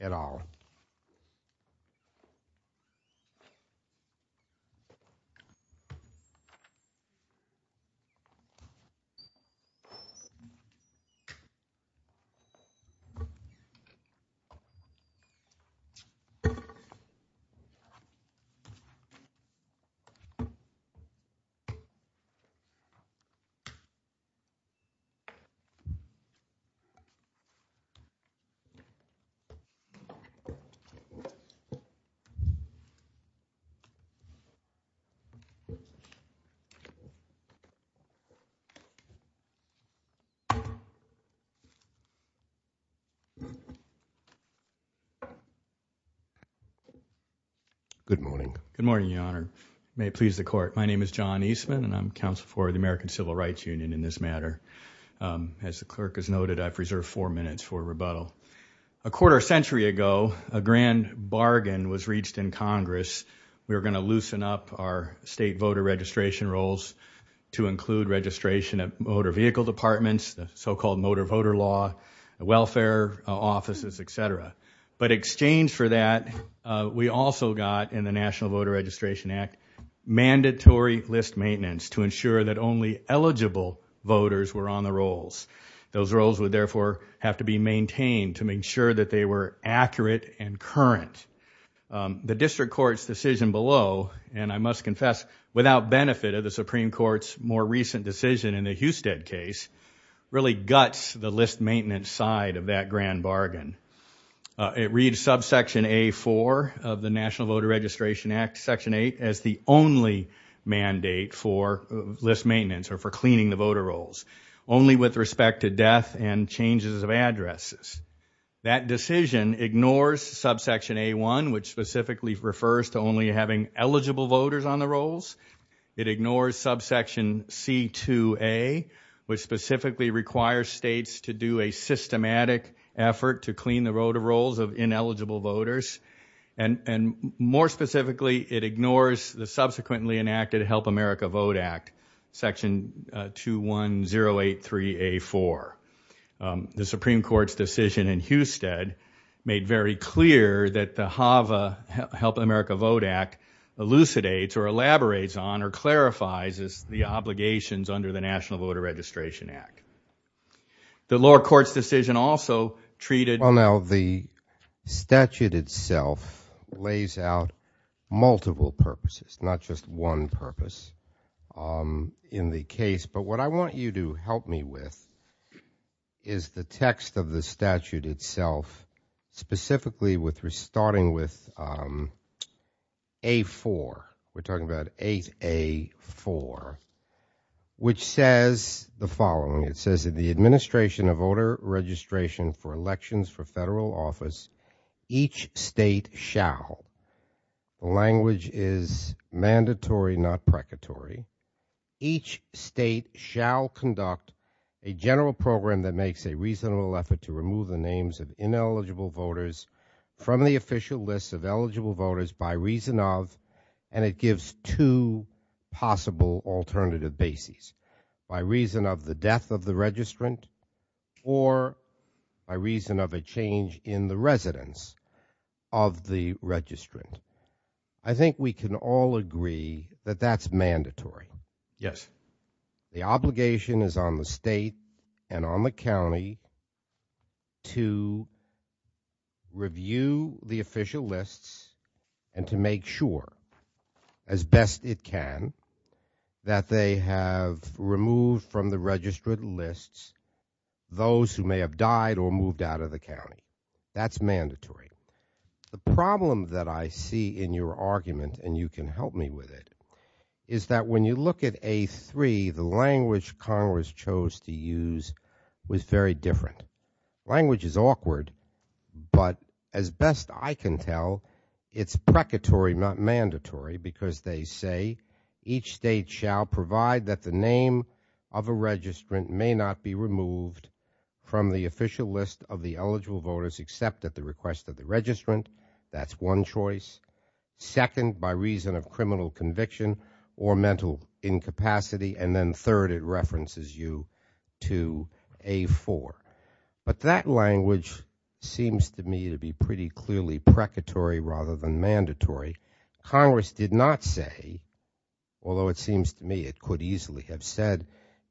at all. Good morning. Good morning, Your Honor. May it please the court. My name is John Eastman, and I'm counsel for the American Civil Rights Union in this matter. As the clerk has noted, I preserved four minutes for rebuttal. A quarter century ago, a grand bargain was reached in Congress. We were going to loosen up our state voter registration rolls to include registration of motor vehicle departments, so-called motor voter law, welfare offices, et cetera. But in exchange for that, we also got in the National Voter Registration Act mandatory list maintenance to ensure that only eligible voters were on the rolls. Those rolls would therefore have to be maintained to make sure that they were accurate and current. The district court's decision below, and I must confess without benefit of the Supreme Court's more recent decision in the Husted case, really guts the list maintenance side of that grand bargain. It reads subsection A4 of the National Voter Registration Act, section 8, as the only mandate for list maintenance or for cleaning the voter rolls, only with respect to death and changes of addresses. That decision ignores subsection A1, which specifically refers to only having eligible voters on the rolls. It ignores subsection C2A, which specifically requires states to do a systematic effort to clean the voter rolls of ineligible voters, and more specifically, it ignores the subsequently enacted Help America Vote Act, section 21083A4. The Supreme Court's decision in Husted made very clear that the HAVA, Help America Vote Act, elucidates or elaborates on or clarifies the obligations under the National Voter Registration Act. The lower court's decision also treated- Well, now, the statute itself lays out multiple purposes, not just one purpose in the case, but what I want you to help me with is the text of the statute itself, specifically starting with A4. We're talking about 8A4, which says the following. It says the administration of voter registration for elections for federal office, each state shall, the language is mandatory, not precatory, each state shall conduct a general program that makes a reasonable effort to remove the names of ineligible voters from the official list of eligible voters by reason of, and it gives two possible alternative bases. By reason of the death of the registrant or by reason of a change in the residence of the registrant. I think we can all agree that that's mandatory. Yes. The obligation is on the state and on the county to review the official lists and to make sure, as best it can, that they have removed from the registrant lists those who may have died or moved out of the county. That's mandatory. The problem that I see in your argument, and you can help me with it, is that when you look at A3, the language Congress chose to use was very different. Language is awkward, but as best I can tell, it's precatory, not mandatory, because they say each state shall provide that the name of a registrant may not be removed from the official list of the eligible voters except at the request of the registrant. That's one choice. Second, by reason of criminal conviction or mental incapacity, and then third, it references you to A4. But that language seems to me to be pretty clearly precatory rather than mandatory. Congress did not say, although it seems to me it could easily have said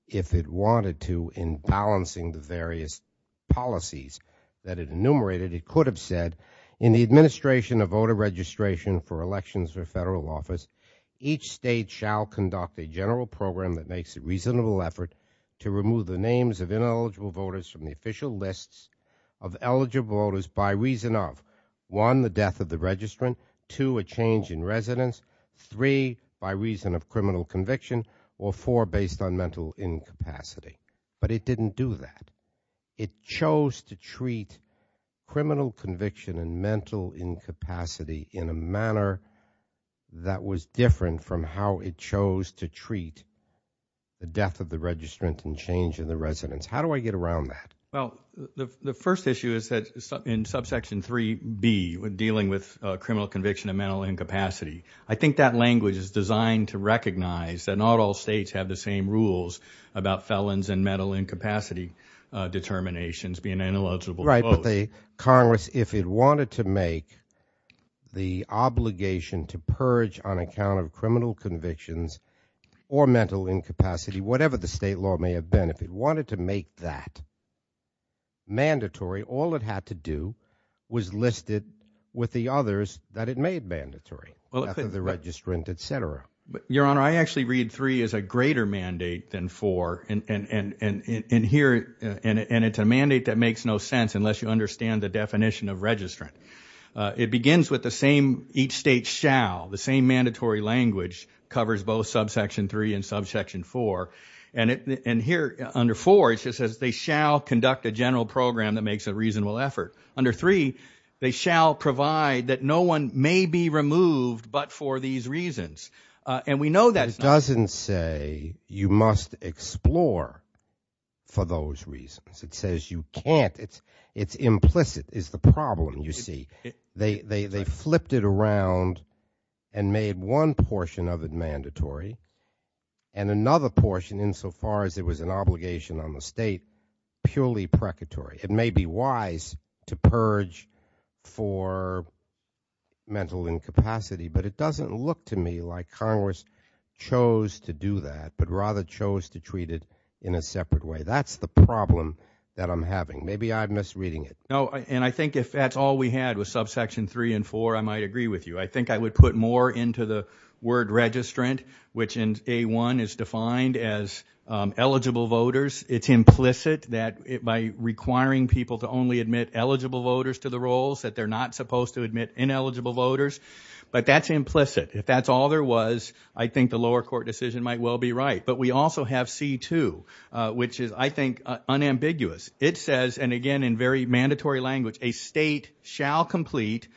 if it wanted to in balancing the various policies that it enumerated, it could have said in the administration of voter registration for elections or federal office, each state shall conduct a general program that makes a reasonable effort to remove the names of ineligible voters from the official lists of eligible voters by reason of, one, the death of the registrant, two, a change in residence, three, by reason of criminal conviction, or four, based on mental incapacity. But it didn't do that. It chose to treat criminal conviction and mental incapacity in a manner that was different from how it chose to treat the death of the registrant and change in the residence. How do I get around that? Well, the first issue is that in subsection 3b, dealing with criminal conviction and mental incapacity, I think that language is designed to recognize that not all states have the same rules about felons and mental incapacity determinations being ineligible. Right, but Congress, if it wanted to make the obligation to purge on account of criminal convictions or mental incapacity, whatever the state law may have been, if it wanted to make that mandatory, all it had to do was list it with the others that it made mandatory, the death of the registrant, etc. Your Honor, I actually read 3 as a greater mandate than 4, and here, and it's a mandate that makes no sense unless you understand the definition of registrant. It begins with the same, each state shall, the same mandatory language covers both conduct a general program that makes a reasonable effort. Under 3, they shall provide that no one may be removed but for these reasons, and we know that. It doesn't say you must explore for those reasons. It says you can't. It's implicit. It's the problem, you see. They flipped it around and made one portion of it mandatory and another portion, insofar as there is an obligation on the state, purely precatory. It may be wise to purge for mental incapacity, but it doesn't look to me like Congress chose to do that but rather chose to treat it in a separate way. That's the problem that I'm having. Maybe I'm misreading it. No, and I think if that's all we had with subsection 3 and 4, I might agree with you. I think I would put more into the eligible voters. It's implicit that by requiring people to only admit eligible voters to the roles that they're not supposed to admit ineligible voters, but that's implicit. If that's all there was, I think the lower court decision might well be right, but we also have C2, which is, I think, unambiguous. It says, and again in very mandatory language, a state shall complete,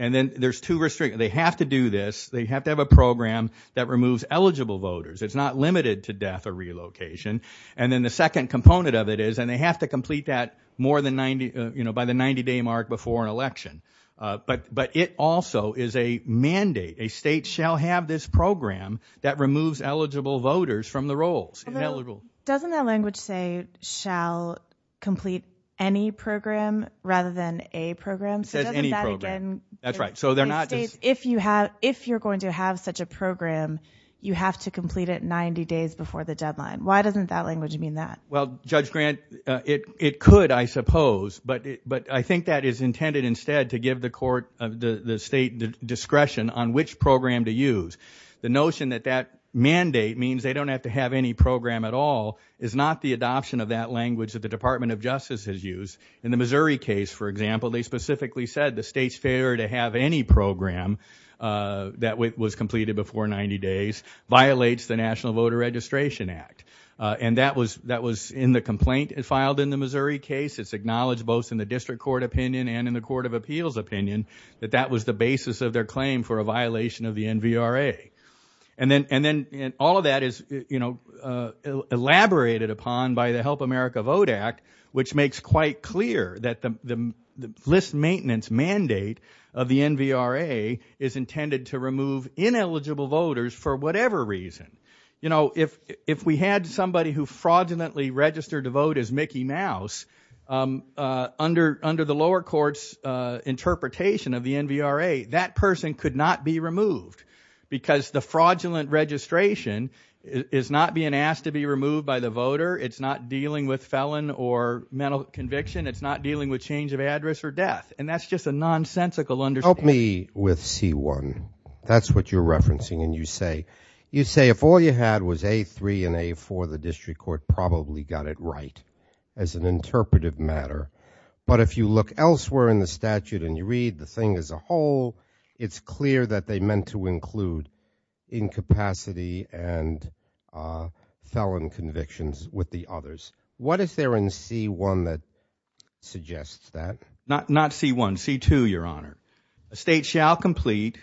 and then there's two restrictions. They have to do this. They have to have a program that removes eligible voters. It's not limited to death or relocation, and then the second component of it is, and they have to complete that more than 90, you know, by the 90-day mark before an election, but it also is a mandate. A state shall have this program that removes eligible voters from the roles. Doesn't that language say shall complete any program rather than a program? That's right, if you're going to have such a program, you have to complete it 90 days before the deadline. Why doesn't that language mean that? Well, Judge Grant, it could, I suppose, but I think that is intended instead to give the state discretion on which program to use. The notion that that mandate means they don't have to have any program at all is not the adoption of that language that the Department of Justice has used. In the Missouri case, for example, they specifically said the state's failure to have any program that was completed before 90 days violates the National Voter Registration Act, and that was in the complaint filed in the Missouri case. It's acknowledged both in the district court opinion and in the court of appeals opinion that that was the basis of their claim for a violation of the NVRA, and then all of that is, you know, of the NVRA is intended to remove ineligible voters for whatever reason. You know, if we had somebody who fraudulently registered to vote as Mickey Mouse under the lower court's interpretation of the NVRA, that person could not be removed because the fraudulent registration is not being asked to be removed by the voter, it's not dealing with felon or mental conviction, it's not dealing with change of address or death, and that's just a nonsensical understanding. Help me with C1. That's what you're referencing and you say, you say if all you had was A3 and A4, the district court probably got it right as an interpretive matter, but if you look elsewhere in the statute and you read the thing as a whole, it's clear that they meant to include incapacity and felon convictions with the others. What is there in C1 that suggests that? Not C1, C2, your honor. A state shall complete,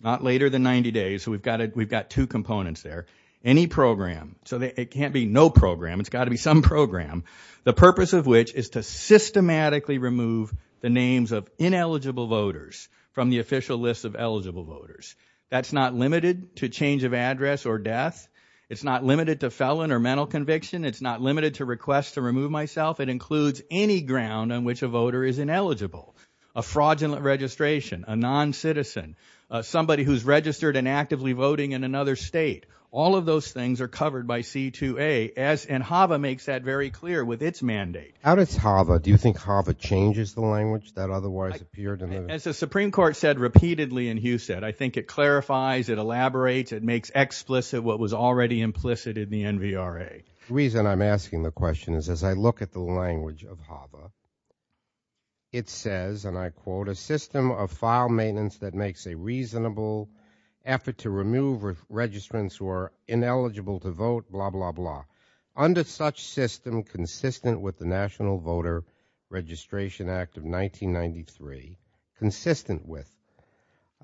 not later than 90 days, so we've got two components there, any program, so it can't be no program, it's got to be some program, the purpose of which is to systematically remove the names of ineligible voters from the official list of eligible voters. That's not limited to change of address or death, it's not limited to felon or mental conviction, it's not limited to request to remove myself, it includes any ground on which a voter is ineligible, a fraudulent registration, a non-citizen, somebody who's registered and actively voting in another state, all of those things are covered by C2A, and HAVA makes that very clear with its mandate. How does HAVA, do you think HAVA changes the language that otherwise appeared in those? As the Supreme Court said repeatedly, and Hugh said, I think it clarifies, it elaborates, it makes explicit what was already implicit in the NVRA. The reason I'm asking the question is as I look at the language of HAVA, it says, and I quote, a system of file maintenance that makes a reasonable effort to remove registrants who are ineligible to vote, blah, blah, blah, under such system consistent with the National Voter Registration Act of 1993, consistent with,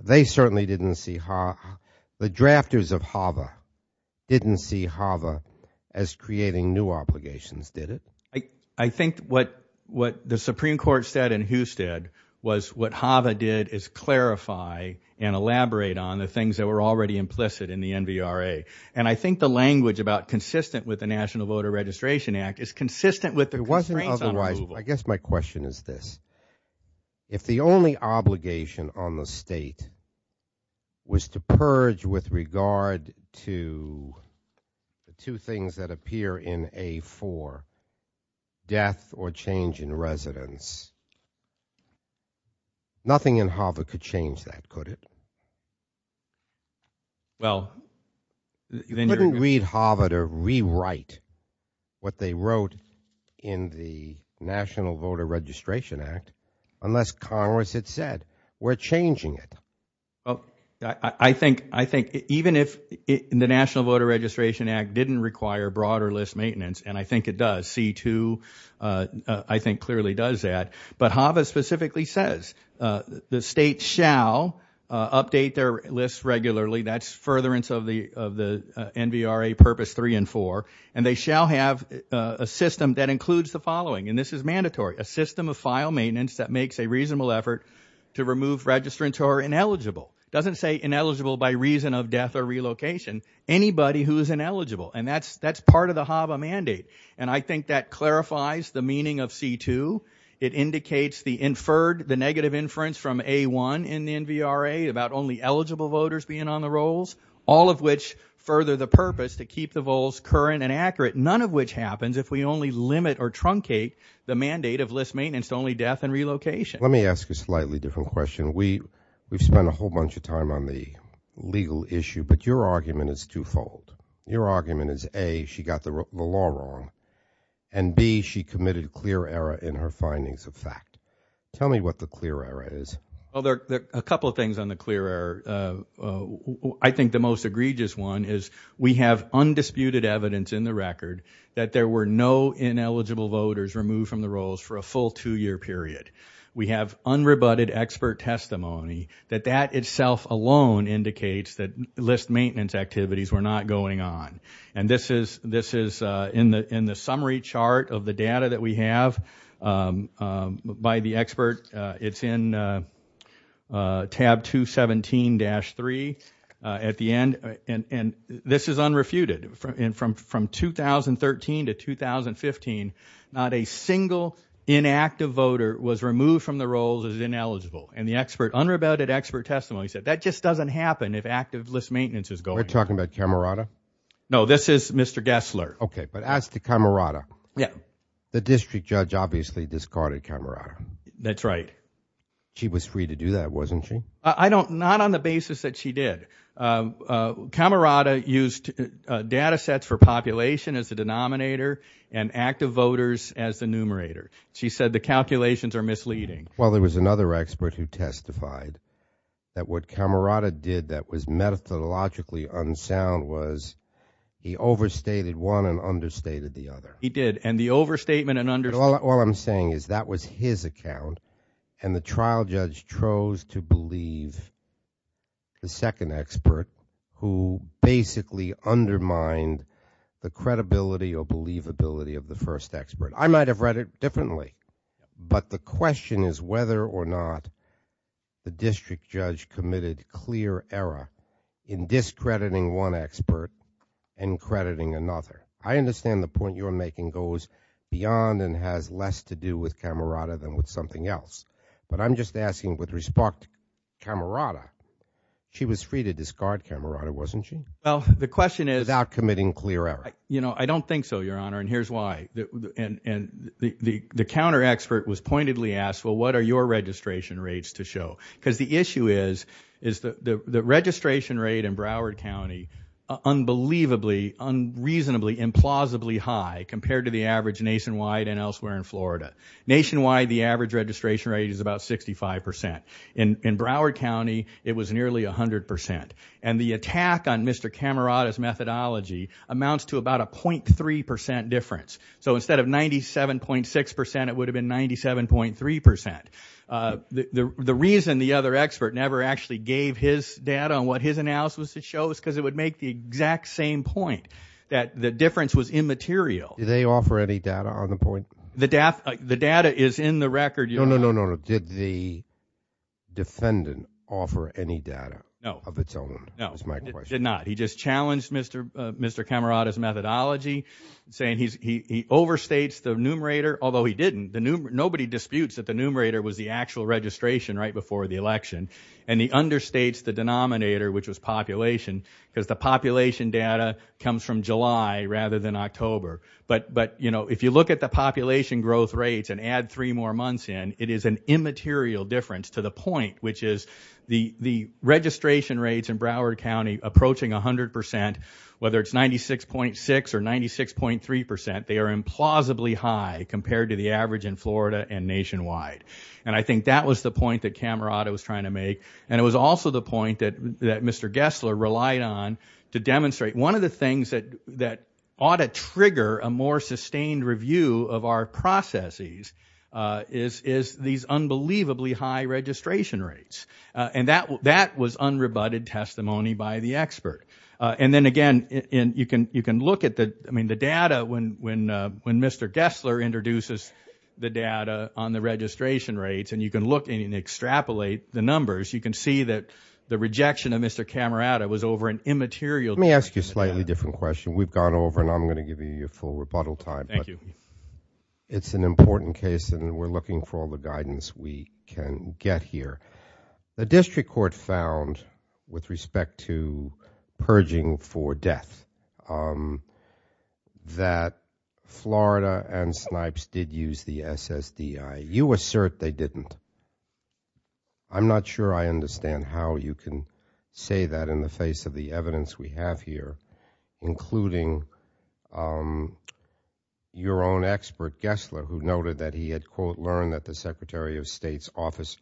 they certainly didn't see, the drafters of HAVA didn't see HAVA as creating new obligations, did it? I think what the Supreme Court said and Hugh said was what HAVA did is clarify and elaborate on the things that were already implicit in the NVRA, and I think the language about consistent with the National Voter Registration Act is consistent with the constraints on approval. I guess my question is this, if the only obligation on the state was to purge with regard to the two things that appear in A4, death or change in residence, nothing in HAVA could change that, could it? Well, you didn't read HAVA to rewrite what they wrote in the National Voter Registration Act unless Congress had said we're changing it. I think even if the National Voter Registration Act didn't require broader list maintenance, and I think it does, C2 I think clearly does that, but HAVA specifically says the state shall update their lists regularly, that's furtherance of the of the NVRA Purpose 3 and 4, and they shall have a system that includes the following, and this is mandatory, a system of file maintenance that makes a reasonable effort to remove registrants who are ineligible, doesn't say ineligible by reason of death or relocation, anybody who's ineligible, and that's part of the HAVA mandate, and I think that clarifies the meaning of C2, it indicates the inferred, the negative inference from A1 in the NVRA about only eligible voters being on the rolls, all of which further the purpose to keep the rolls current and accurate, none of which happens if we only limit or truncate the mandate of list maintenance, only death and relocation. Let me ask a slightly different question. We've spent a whole bunch of time on the legal issue, but your argument is twofold. Your argument is A, she got the law wrong, and B, she committed clear error in her findings of fact. Tell me what the clear error is. Well, there are a couple of things on the clear error. I think the most egregious one is we have undisputed evidence in the record that there were no ineligible voters removed from the rolls for a full two-year period. We have unrebutted expert testimony that that itself alone indicates that maintenance activities were not going on, and this is in the summary chart of the data that we have by the expert. It's in tab 217-3 at the end, and this is unrefuted. From 2013 to 2015, not a single inactive voter was removed from the rolls as ineligible, and the unrebutted expert testimony said that just doesn't happen if active list maintenance is going on. Are you talking about Camerata? No, this is Mr. Gessler. Okay, but ask the Camerata. Yeah. The district judge obviously discarded Camerata. That's right. She was free to do that, wasn't she? Not on the basis that she did. Camerata used data sets for population as the denominator and active voters as the numerator. She said the calculations are misleading. Well, there was another expert who testified that what Camerata did that was methodologically unsound was he overstated one and understated the other. He did, and the overstatement and understatement— All I'm saying is that was his account, and the trial judge chose to believe the second expert who basically undermined the credibility or believability of the first expert. I might have read it differently, but the question is whether or not the district judge committed clear error in discrediting one expert and crediting another. I understand the point you're making goes beyond and has less to do with Camerata than with something else, but I'm just asking with respect to Camerata, she was free to discard Camerata, wasn't she? Well, the question is— Without committing clear error. I don't think so, Your Honor, and here's why. The counter-expert was pointedly asked, well, what are your registration rates to show? Because the issue is the registration rate in Broward County, unbelievably, unreasonably, implausibly high compared to the average nationwide and elsewhere in Florida. Nationwide, the average registration rate is about 65%. In Broward County, it was nearly 100%, and the attack on Mr. Camerata's methodology amounts to about a 0.3% difference. So instead of 97.6%, it would have been 97.3%. The reason the other expert never actually gave his data on what his analysis shows is because it would make the exact same point, that the difference was immaterial. Did they offer any data on the point? The data is in the record, Your Honor. No, no, no, no, no. Did the defendant offer any data of its own? No, no, he did not. Mr. Camerata's methodology, he overstates the numerator, although he didn't. Nobody disputes that the numerator was the actual registration right before the election, and he understates the denominator, which was population, because the population data comes from July rather than October. If you look at the population growth rates and add three more months in, it is an immaterial difference to the point, which is the registration rates in Broward County approaching 100%, whether it's 96.6% or 96.3%, they are implausibly high compared to the average in Florida and nationwide. And I think that was the point that Camerata was trying to make. And it was also the point that Mr. Gessler relied on to demonstrate one of the things that ought to trigger a more sustained review of our processes is these unbelievably high registration rates. And that was unrebutted testimony by the expert. And then again, you can look at the data when Mr. Gessler introduces the data on the registration rates, and you can look and extrapolate the numbers, you can see that the rejection of Mr. Camerata was over an immaterial difference. Let me ask you a slightly different question. We've gone over, and I'm going to give you your full rebuttal time. Thank you. It's an important case, and we're looking for all the guidance we can get here. The district court found, with respect to purging for death, that Florida and Snipes did use the SSDI. You assert they didn't. I'm not sure I understand how you can say that in the face of the evidence we have here, including your own expert, Gessler, who noted that he had, quote, that the secretary of state's office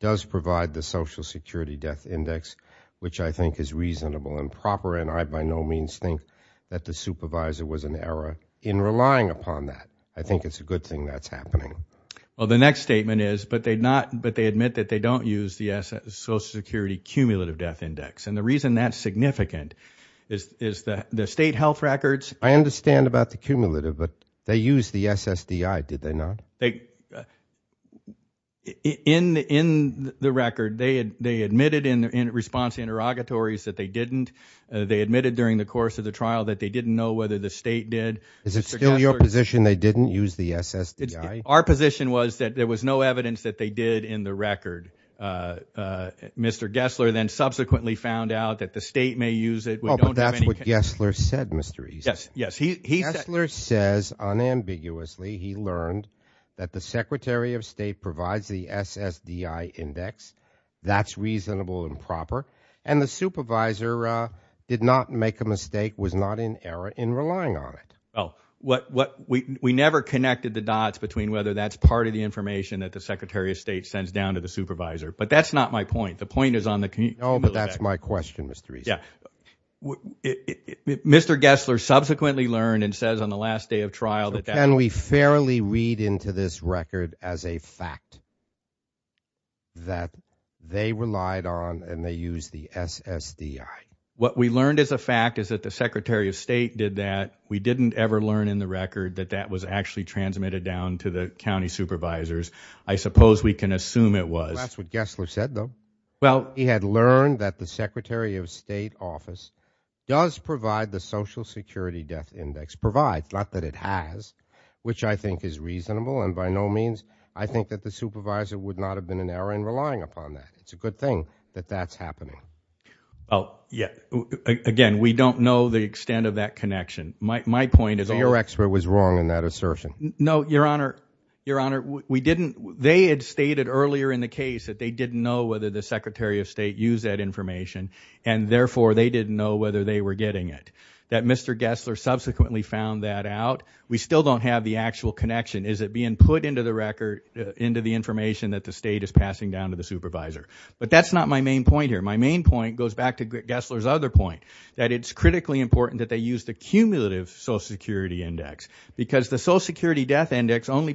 does provide the social security death index, which I think is reasonable and proper, and I by no means think that the supervisor was in error in relying upon that. I think it's a good thing that's happening. Well, the next statement is, but they admit that they don't use the social security cumulative death index. And the reason that's significant is that the state health records- I understand about the cumulative, but they used the SSDI, did they not? In the record, they admitted in response to interrogatories that they didn't. They admitted during the course of the trial that they didn't know whether the state did. Is it still your position they didn't use the SSDI? Our position was that there was no evidence that they did in the record. Mr. Gessler then subsequently found out that the state may use it. Well, that's what Gessler said, Mr. East. Yes, yes. Gessler says unambiguously he learned that the Secretary of State provides the SSDI index. That's reasonable and proper. And the supervisor did not make a mistake, was not in error in relying on it. Well, we never connected the dots between whether that's part of the information that the Secretary of State sends down to the supervisor. But that's not my point. The point is on the- No, but that's my question, Mr. East. Mr. Gessler subsequently learned and says on the last day of trial that- Can we fairly read into this record as a fact that they relied on and they used the SSDI? What we learned as a fact is that the Secretary of State did that. We didn't ever learn in the record that that was actually transmitted down to the county supervisors. I suppose we can assume it was. That's what Gessler said, though. He had learned that the Secretary of State office does provide the Social Security death index, provides, not that it has, which I think is reasonable. And by no means, I think that the supervisor would not have been in error in relying upon that. It's a good thing that that's happening. Oh, yeah. Again, we don't know the extent of that connection. My point is- Your expert was wrong in that assertion. No, Your Honor. Your Honor, we didn't- Earlier in the case that they didn't know whether the Secretary of State used that information and therefore they didn't know whether they were getting it, that Mr. Gessler subsequently found that out. We still don't have the actual connection. Is it being put into the record, into the information that the state is passing down to the supervisor? But that's not my main point here. My main point goes back to Gessler's other point, that it's critically important that they use the cumulative Social Security index because the Social Security death index only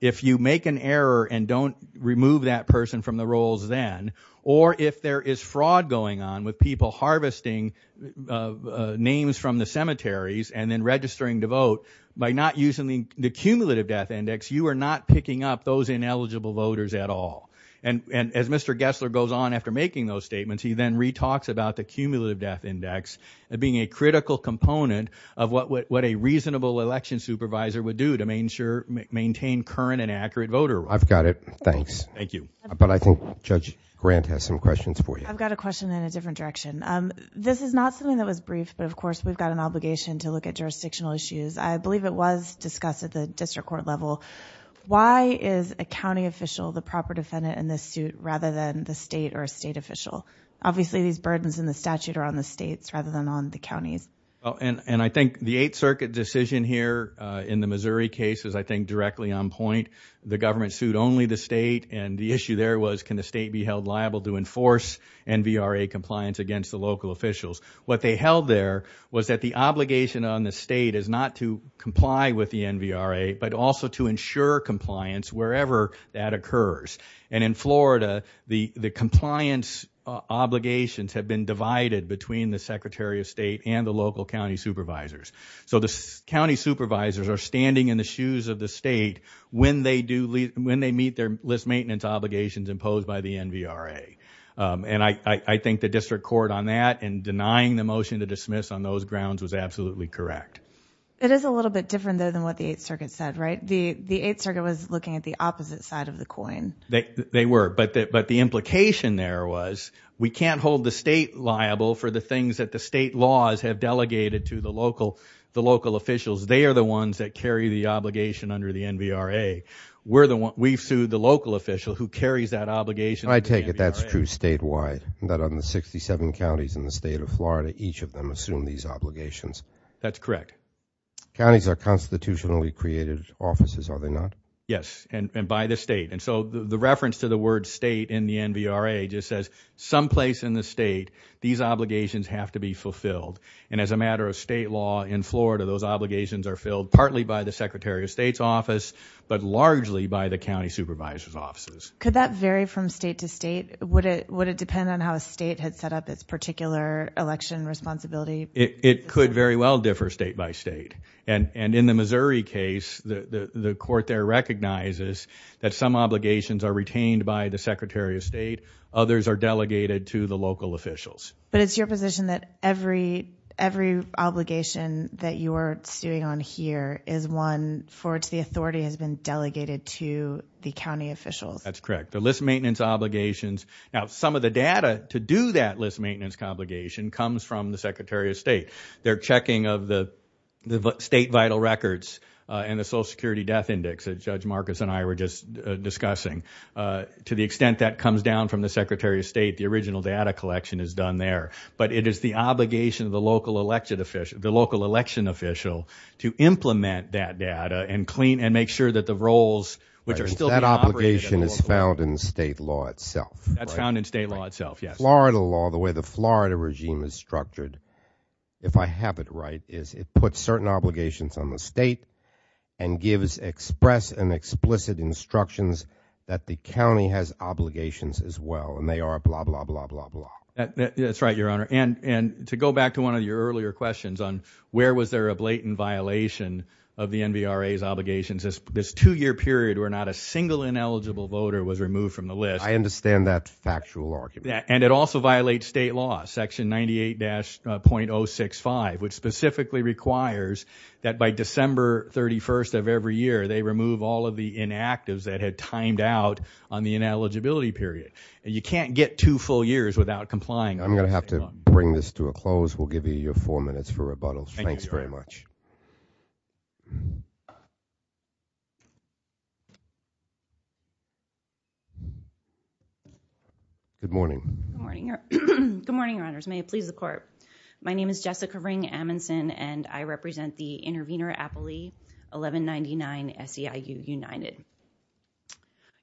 if you make an error and don't remove that person from the rolls then, or if there is fraud going on with people harvesting names from the cemeteries and then registering to vote, by not using the cumulative death index, you are not picking up those ineligible voters at all. And as Mr. Gessler goes on after making those statements, he then re-talks about the cumulative death index being a critical component of what a reasonable election supervisor would do to maintain current and accurate voter... I've got it. Thanks. Thank you. But I think Judge Grant has some questions for you. I've got a question in a different direction. This is not something that was briefed, but of course we've got an obligation to look at jurisdictional issues. I believe it was discussed at the district court level. Why is a county official the proper defendant in this suit rather than the state or state official? Obviously these burdens in the statute are on the state rather than on the county. And I think the Eighth Circuit decision here in the Missouri case was I think directly on point. The government sued only the state and the issue there was can the state be held liable to enforce NVRA compliance against the local officials? What they held there was that the obligation on the state is not to comply with the NVRA, but also to ensure compliance wherever that occurs. And in Florida, the compliance obligations had been divided between the Secretary of the State and the local county supervisors. So the county supervisors are standing in the shoes of the state when they meet their list maintenance obligations imposed by the NVRA. And I think the district court on that and denying the motion to dismiss on those grounds was absolutely correct. It is a little bit different there than what the Eighth Circuit said, right? The Eighth Circuit was looking at the opposite side of the coin. They were. But the implication there was we can't hold the state liable for the things that the state laws have delegated to the local officials. They are the ones that carry the obligation under the NVRA. We've sued the local official who carries that obligation. And I take it that's true statewide, that on the 67 counties in the state of Florida, each of them assume these obligations. That's correct. Counties are constitutionally created offices, are they not? Yes, and by the state. And so the reference to the word state in the NVRA just says someplace in the state, these obligations have to be fulfilled. And as a matter of state law in Florida, those obligations are filled partly by the Secretary of State's office, but largely by the county supervisor's offices. Could that vary from state to state? Would it depend on how a state had set up its particular election responsibility? It could very well differ state by state. And in the Missouri case, the court there recognizes that some obligations are retained by the Secretary of State. Others are delegated to the local officials. But it's your position that every obligation that you're suing on here is one for which the authority has been delegated to the county officials? That's correct. The list maintenance obligations. Now, some of the data to do that list maintenance obligation comes from the Secretary of State. They're checking of the state vital records and the Social Security death index that Judge to the extent that comes down from the Secretary of State, the original data collection is done there. But it is the obligation of the local elected official, the local election official, to implement that data and clean and make sure that the roles, which are still That obligation is found in state law itself. That's found in state law itself. Florida law, the way the Florida regime is structured, if I have it right, is it puts certain obligations on the state and gives express and explicit instructions that the county has obligations as well. And they are blah, blah, blah, blah, blah. That's right, Your Honor. And to go back to one of your earlier questions on where was there a blatant violation of the NBRA's obligations, this two-year period where not a single ineligible voter was removed from the list. I understand that factual argument. And it also violates state law, Section 98-.065, which specifically requires that by December 31st of every year, they remove all of the inactives that had timed out on the ineligibility period. And you can't get two full years without complying. I'm going to have to bring this to a close. We'll give you your four minutes for rebuttals. Thanks very much. Good morning. Good morning, Your Honors. May it please the Court. My name is Jessica Ring-Amundson, and I represent the intervener 1199 SEIU United.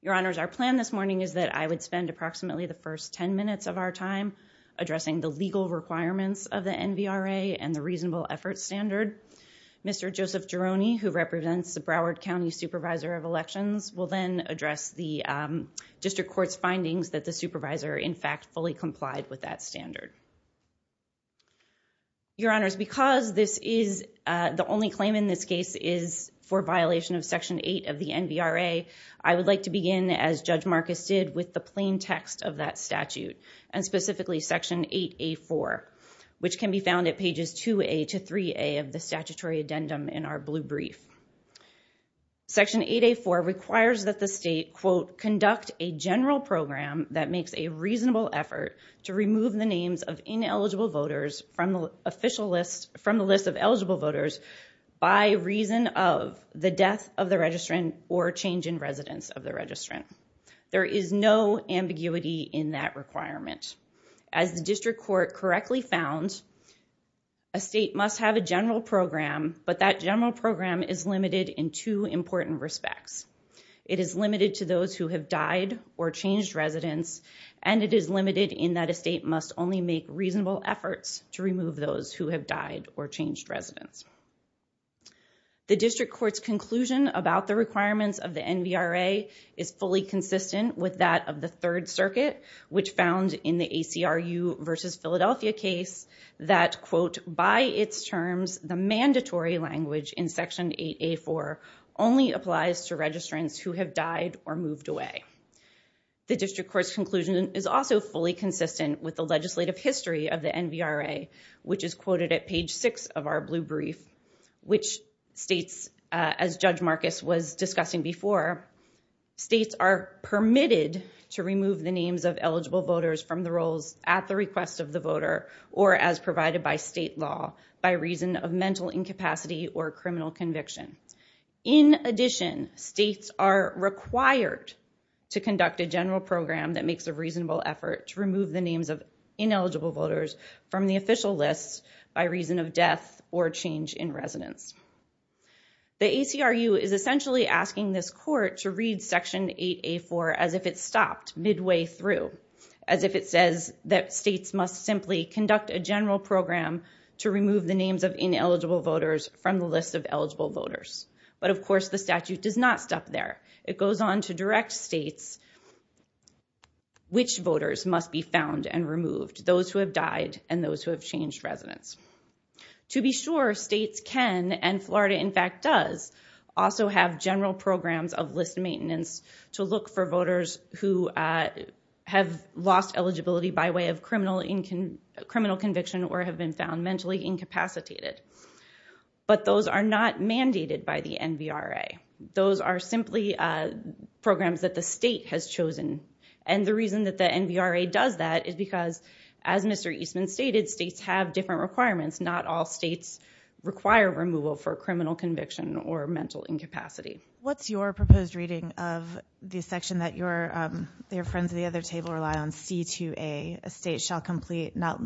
Your Honors, our plan this morning is that I would spend approximately the first 10 minutes of our time addressing the legal requirements of the NBRA and the reasonable efforts standard. Mr. Joseph Gironi, who represents the Broward County Supervisor of Elections, will then address the District Court's findings that the Supervisor, in fact, fully complied with that standard. Your Honors, because this is the only claim in this case is for violation of Section 8 of the NBRA, I would like to begin, as Judge Marcus did, with the plain text of that statute, and specifically Section 8A4, which can be found at pages 2A to 3A of the statutory addendum in our blue brief. Section 8A4 requires that the state, quote, conduct a general program that removes the names of ineligible voters from the list of eligible voters by reason of the death of the registrant or change in residence of the registrant. There is no ambiguity in that requirement. As the District Court correctly found, a state must have a general program, but that general program is limited in two important respects. It is limited to those who have died or changed residence, and it is limited in that a state must only make reasonable efforts to remove those who have died or changed residence. The District Court's conclusion about the requirements of the NBRA is fully consistent with that of the Third Circuit, which found in the ACRU versus Philadelphia case that, quote, by its terms, the mandatory language in Section 8A4 only applies to registrants who have died or moved away. The District Court's conclusion is also fully consistent with the legislative history of the NBRA, which is quoted at page 6 of our blue brief, which states, as Judge Marcus was discussing before, states are permitted to remove the names of eligible voters from the rolls at the request of the voter or as provided by state law by reason of mental incapacity or criminal conviction. In addition, states are required to conduct a general program that makes a reasonable effort to remove the names of ineligible voters from the official list by reason of death or change in residence. The ACRU is essentially asking this Court to read Section 8A4 as if it stopped midway through, as if it says that states must simply conduct a general program to But, of course, the statute does not stop there. It goes on to direct states which voters must be found and removed, those who have died and those who have changed residence. To be sure, states can and Florida, in fact, does also have general programs of list maintenance to look for voters who have lost eligibility by way of criminal conviction or have been found mentally incapacitated. But those are not mandated by the NVRA. Those are simply programs that the state has chosen. And the reason that the NVRA does that is because, as Mr. Eastman stated, states have different requirements. Not all states require removal for criminal conviction or mental incapacity. What's your proposed reading of the section that your friends at the other table rely on, C2A, a state shall complete not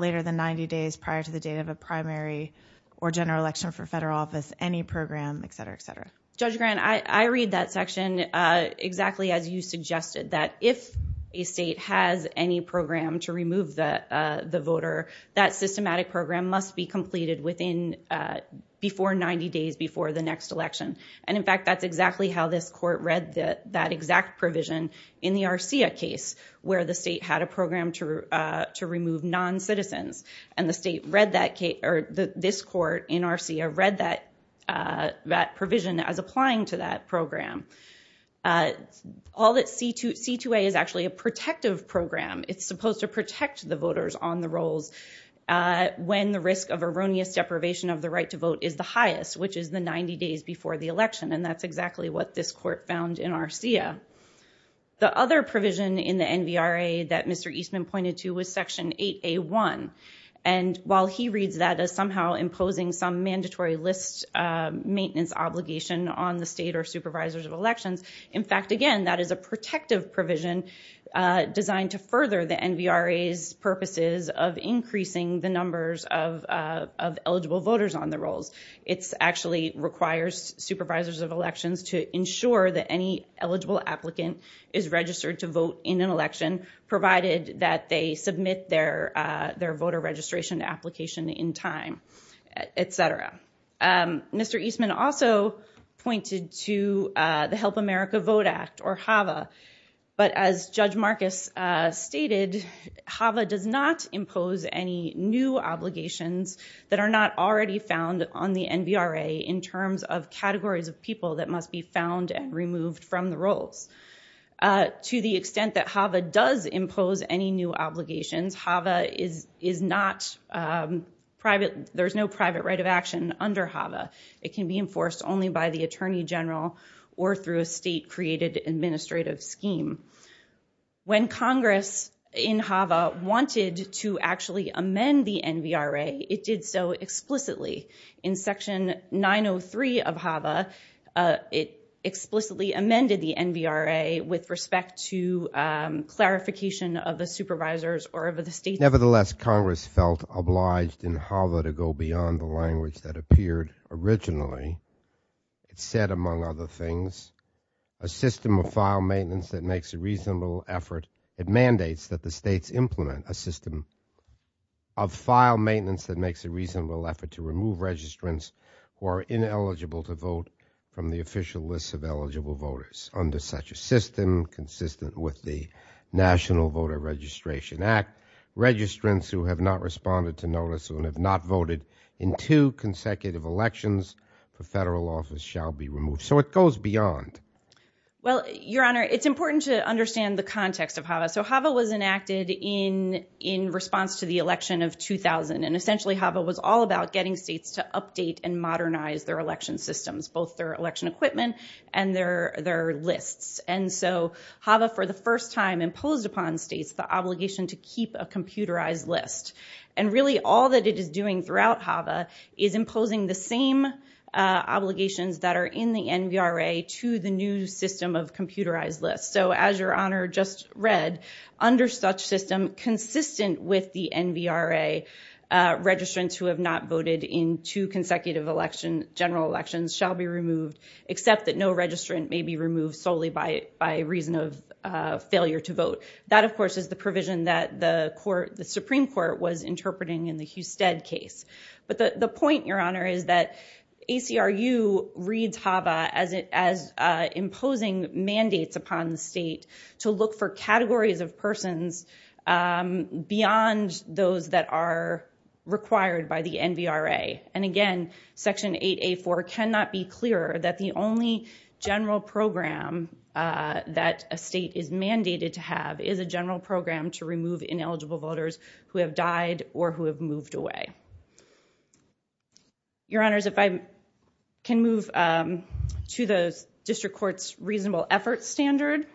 later than 90 days prior to the date of a primary or general election for federal office, any program, et cetera, et cetera? Judge Grant, I read that section exactly as you suggested, that if a state has any program to remove the voter, that systematic program must be completed within before 90 days before the next election. And, in fact, that's exactly how this Court read that exact provision in the RCIA case where the state had a program to remove noncitizens. And the state read that case or this Court in RCIA read that provision as applying to that program. All that C2A is actually a protective program. It's supposed to protect the voters on the rolls when the risk of erroneous deprivation of the right to vote is the highest, which is the 90 days before the election. And that's exactly what this Court found in RCIA. The other provision in the NVRA that Mr. Eastman pointed to was Section 8A1. And while he reads that as somehow imposing some mandatory list maintenance obligation on the state or supervisors of elections, in fact, again, that is a protective provision designed to further the NVRA's purposes of increasing the numbers of eligible voters on the rolls. It actually requires supervisors of elections to ensure that any eligible applicant is registered to vote in an election, provided that they submit their voter registration application in time, et cetera. Mr. Eastman also pointed to the Help America Vote Act or HAVA. But as Judge Marcus stated, HAVA does not impose any new obligations that are not already found on the NVRA in terms of categories of people that must be found and removed from the rolls. To the extent that HAVA does impose any new obligations, HAVA is not private. There's no private right of action under HAVA. It can be enforced only by the Attorney General or through a state-created administrative scheme. When Congress in HAVA wanted to actually amend the NVRA, it did so explicitly. In Section 903 of HAVA, it explicitly amended the NVRA with respect to clarification of the supervisors or of the state. Nevertheless, Congress felt obliged in HAVA to go beyond the language that appeared originally. It said, among other things, a system of file maintenance that makes a reasonable effort. It mandates that the states implement a system of file maintenance that makes a reasonable effort to remove registrants who are ineligible to vote from the official list of eligible voters. Under such a system, consistent with the National Voter Registration Act, registrants who have not responded to notice and have not voted in two consecutive elections, the federal office shall be removed. So it goes beyond. Well, Your Honor, it's important to understand the context of HAVA. So HAVA was enacted in response to the election of 2000. And essentially, HAVA was all about getting states to update and modernize their election systems, both their election equipment and their lists. And so HAVA, for the first time, imposed upon states the obligation to keep a computerized list. And really, all that it is doing throughout HAVA is imposing the same obligations that are in the NVRA to the new system of computerized lists. So as Your Honor just read, under such system, consistent with the NVRA, registrants who have not voted in two consecutive elections, general elections, shall be removed, except that no registrant may be removed solely by reason of failure to vote. That, of course, is the provision that the Supreme Court was interpreting in the Husted case. But the point, Your Honor, is that ACRU reads HAVA as imposing mandates upon the state to look for categories of persons beyond those that are required by the NVRA. And again, Section 8A4 cannot be clearer that the only general program that a state is a general program to remove ineligible voters who have died or who have moved away. Your Honors, if I can move to the district court's reasonable effort standard.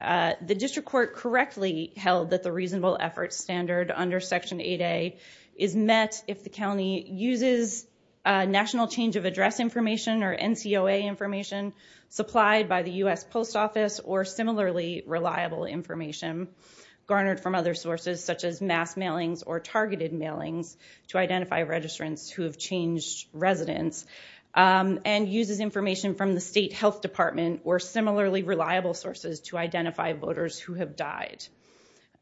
The district court correctly held that the reasonable effort standard under Section 8A is met if the county uses national change of address information or NCOA information supplied by the U.S. Post Office or similarly reliable information garnered from other sources such as mass mailings or targeted mailings to identify registrants who have changed residence and uses information from the state health department or similarly reliable sources to identify voters who have died.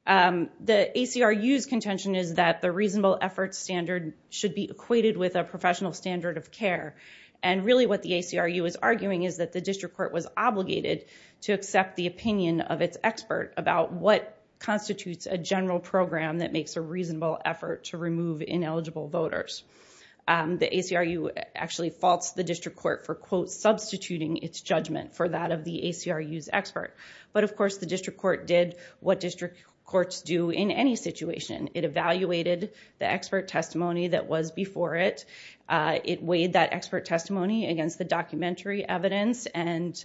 The ACRU's contention is that the reasonable effort standard should be equated with a professional standard of care. And really what the ACRU is arguing is that the district court was obligated to accept the opinion of its expert about what constitutes a general program that makes a reasonable effort to remove ineligible voters. The ACRU actually faults the district court for, quote, substituting its judgment for that of the ACRU's expert. But, of course, the district court did what district courts do in any situation. It evaluated the expert testimony that was before it. It weighed that expert testimony against the documentary evidence and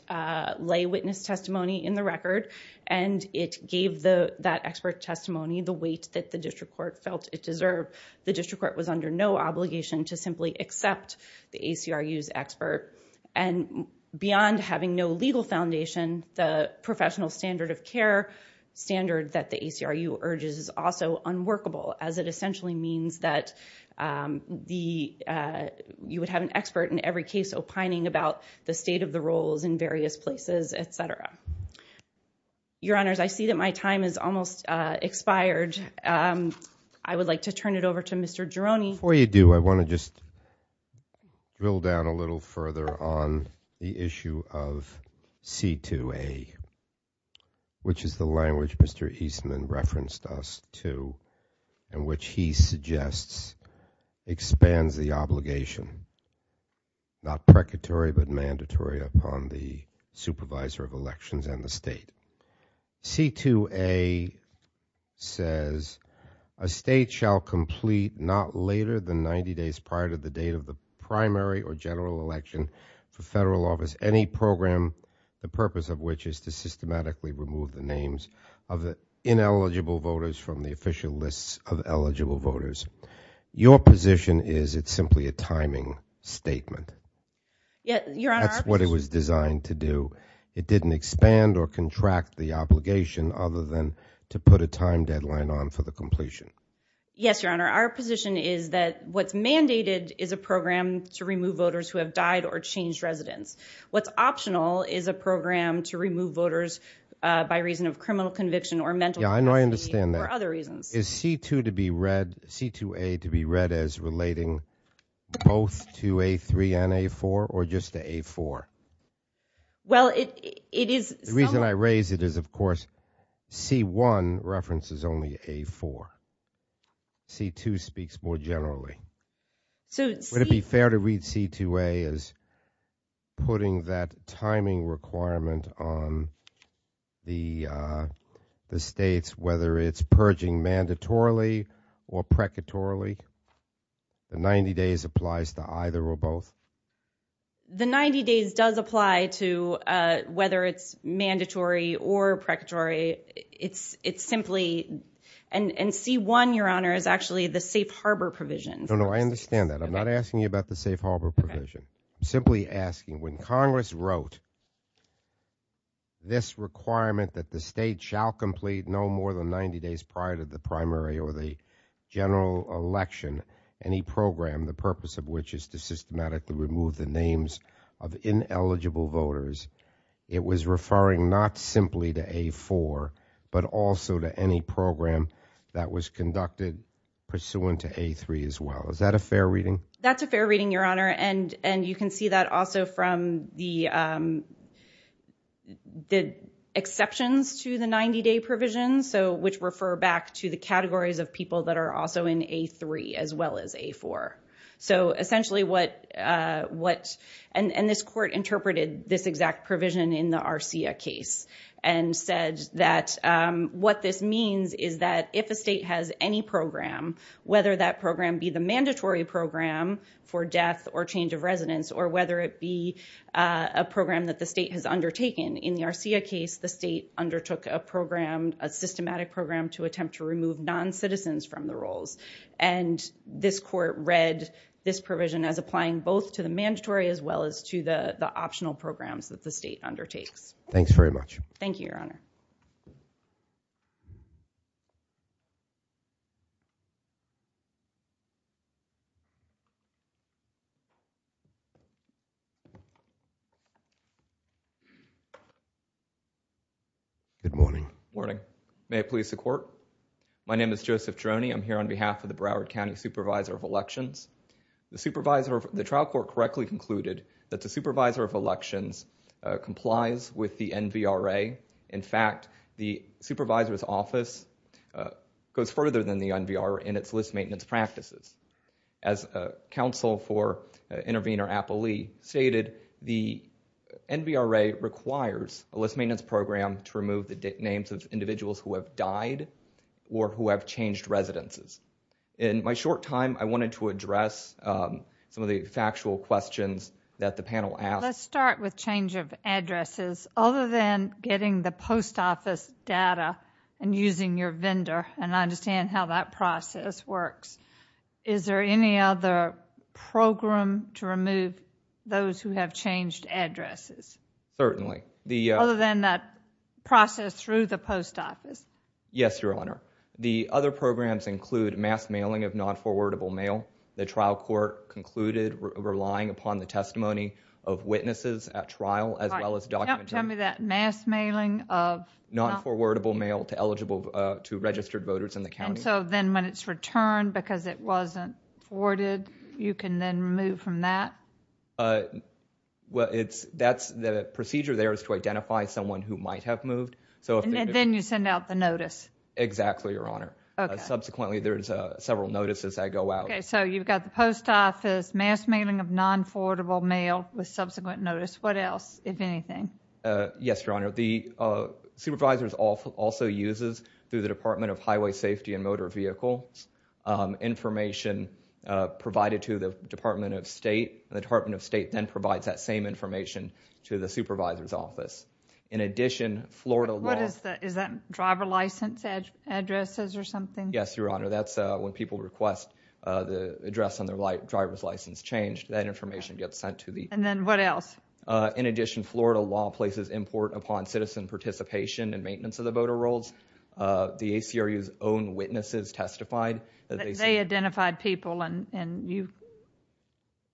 lay witness testimony in the record. And it gave that expert testimony the weight that the district court felt it deserved. The district court was under no obligation to simply accept the ACRU's expert. And beyond having no legal foundation, the professional standard of care standard that the ACRU urges is also unworkable, as it essentially means that you would have an expert in every case opining about the state of the rules in various places, et cetera. Your Honors, I see that my time has almost expired. I would like to turn it over to Mr. Gironi. Before you do, I want to just drill down a little further on the issue of C2A, which is the language Mr. Eastman referenced us to, and which he suggests expands the obligation, not precatory, but mandatory upon the supervisor of elections and the state. C2A says, a state shall complete not later than 90 days prior to the date of the primary or general election for federal office any program, the purpose of which is to systematically remove the names of the ineligible voters from the official lists of eligible voters. Your position is it's simply a timing statement. Yes, Your Honor. That's what it was designed to do. It didn't expand or contract the obligation other than to put a time deadline on for the completion. Yes, Your Honor. Our position is that what's mandated is a program to remove voters who have died or changed residence. What's optional is a program to remove voters by reason of criminal conviction or mental Yeah, I understand that. or other reasons. Is C2 to be read, C2A to be read as relating both to A3 and A4, or just to A4? Well, it is The reason I raise it is, of course, C1 references only A4. C2 speaks more generally. So would it be fair to read C2A as putting that timing requirement on the states, whether it's purging mandatorily or precatorily? The 90 days applies to either or both. The 90 days does apply to whether it's mandatory or precatory. It's simply, and C1, Your Honor, is actually the safe harbor provision. I understand that. I'm not asking you about the safe harbor provision. I'm simply asking, when Congress wrote this requirement that the state shall complete no more than 90 days prior to the primary or the general election, any program, the purpose of which is to systematically remove the names of ineligible voters, it was referring not simply to A4, but also to any program that was conducted pursuant to A3 as well. Is that a fair reading? That's a fair reading, Your Honor. And you can see that also from the exceptions to the 90 day provision, which refer back to the categories of people that are also in A3 as well as A4. So essentially what, and this court interpreted this exact provision in the RCIA case and said that what this means is that if a state has any program, whether that program be the mandatory program for death or change of residence, or whether it be a program that the state has undertaken. In the RCIA case, the state undertook a program, a systematic program to attempt to remove non-citizens from the rolls. And this court read this provision as applying both to the mandatory as well as to the optional programs that the state undertakes. Thanks very much. Thank you, Your Honor. Good morning. Morning. May it please the court. My name is Joseph Droney. I'm here on behalf of the Broward County Supervisor of Elections. The trial court correctly concluded that the Supervisor of Elections complies with the NVRA. In fact, the supervisor's office goes further than the NVRA in its list maintenance practices. As counsel for intervener, Apple Lee, stated, the NVRA requires a list maintenance program to remove the names of individuals who have died or who have changed residences. In my short time, I wanted to address some of the factual questions that the panel asked. Let's start with change of addresses. Other than getting the post office data and using your vendor, and I understand how that process works. Is there any other program to remove those who have changed addresses? Certainly. Other than that process through the post office. Yes, Your Honor. The other programs include mass mailing of non-forwardable mail. The trial court concluded relying upon the testimony of witnesses at trial as well as documents. Tell me that mass mailing of. Non-forwardable mail to eligible, to registered voters in the county. And so then when it's returned because it wasn't forwarded, you can then move from that? Well, it's, that's the procedure there is to identify someone who might have moved. So. Then you send out the notice. Exactly, Your Honor. Subsequently, there's several notices that go out. So you've got the post office, mass mailing of non-forwardable mail with subsequent notice. What else, if anything? Yes, Your Honor. The supervisors also uses through the Department of Highway Safety and Motor Vehicles. Information provided to the Department of State. The Department of State then provides that same information to the supervisor's office. In addition, Florida. What is that? Is that driver license addresses or something? Yes, Your Honor. That's when people request the address on their driver's license change. That information gets sent to the. And then what else? In addition, Florida law places import upon citizen participation and maintenance of the voter rolls. The ACRU's own witnesses testified. They identified people and you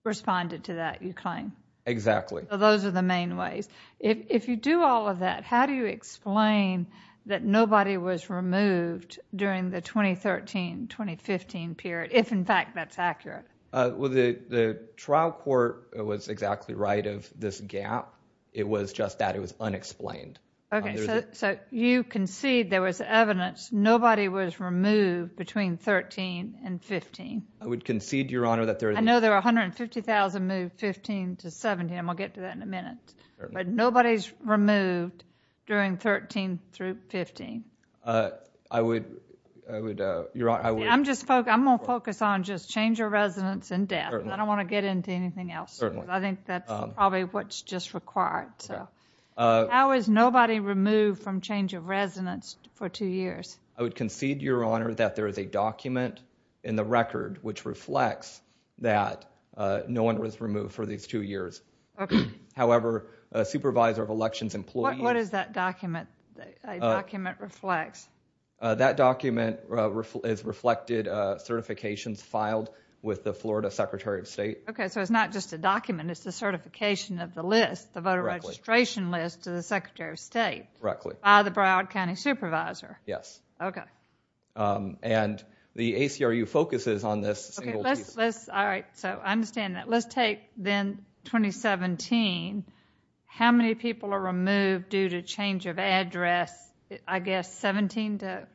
responded to that, you claim? Exactly. So those are the main ways. If you do all of that, how do you explain that nobody was removed during the 2013-2015 period, if in fact that's accurate? Well, the trial court was exactly right of this gap. It was just that it was unexplained. OK, so you concede there was evidence nobody was removed between 13 and 15. I would concede, Your Honor, that there is. I know there are 150,000 moved 15 to 17. I'll get to that in a minute, but nobody's removed during 13 through 15. I would, Your Honor, I would. I'm just I'm going to focus on just change of residence and death. I don't want to get into anything else. I think that's probably what's just required. So how is nobody removed from change of residence for two years? I would concede, Your Honor, that there is a document in the record which reflects that no one was removed for these two years. However, a supervisor of elections employees... What does that document say, document reflects? That document is reflected certifications filed with the Florida Secretary of State. OK, so it's not just a document, it's the certification of the list, the voter registration list to the Secretary of State. Correctly. By the Broward County Supervisor. Yes. OK. And the ACRU focuses on this. All right. So I understand that. Let's take then 2017. How many people are removed due to change of address? I guess 17 to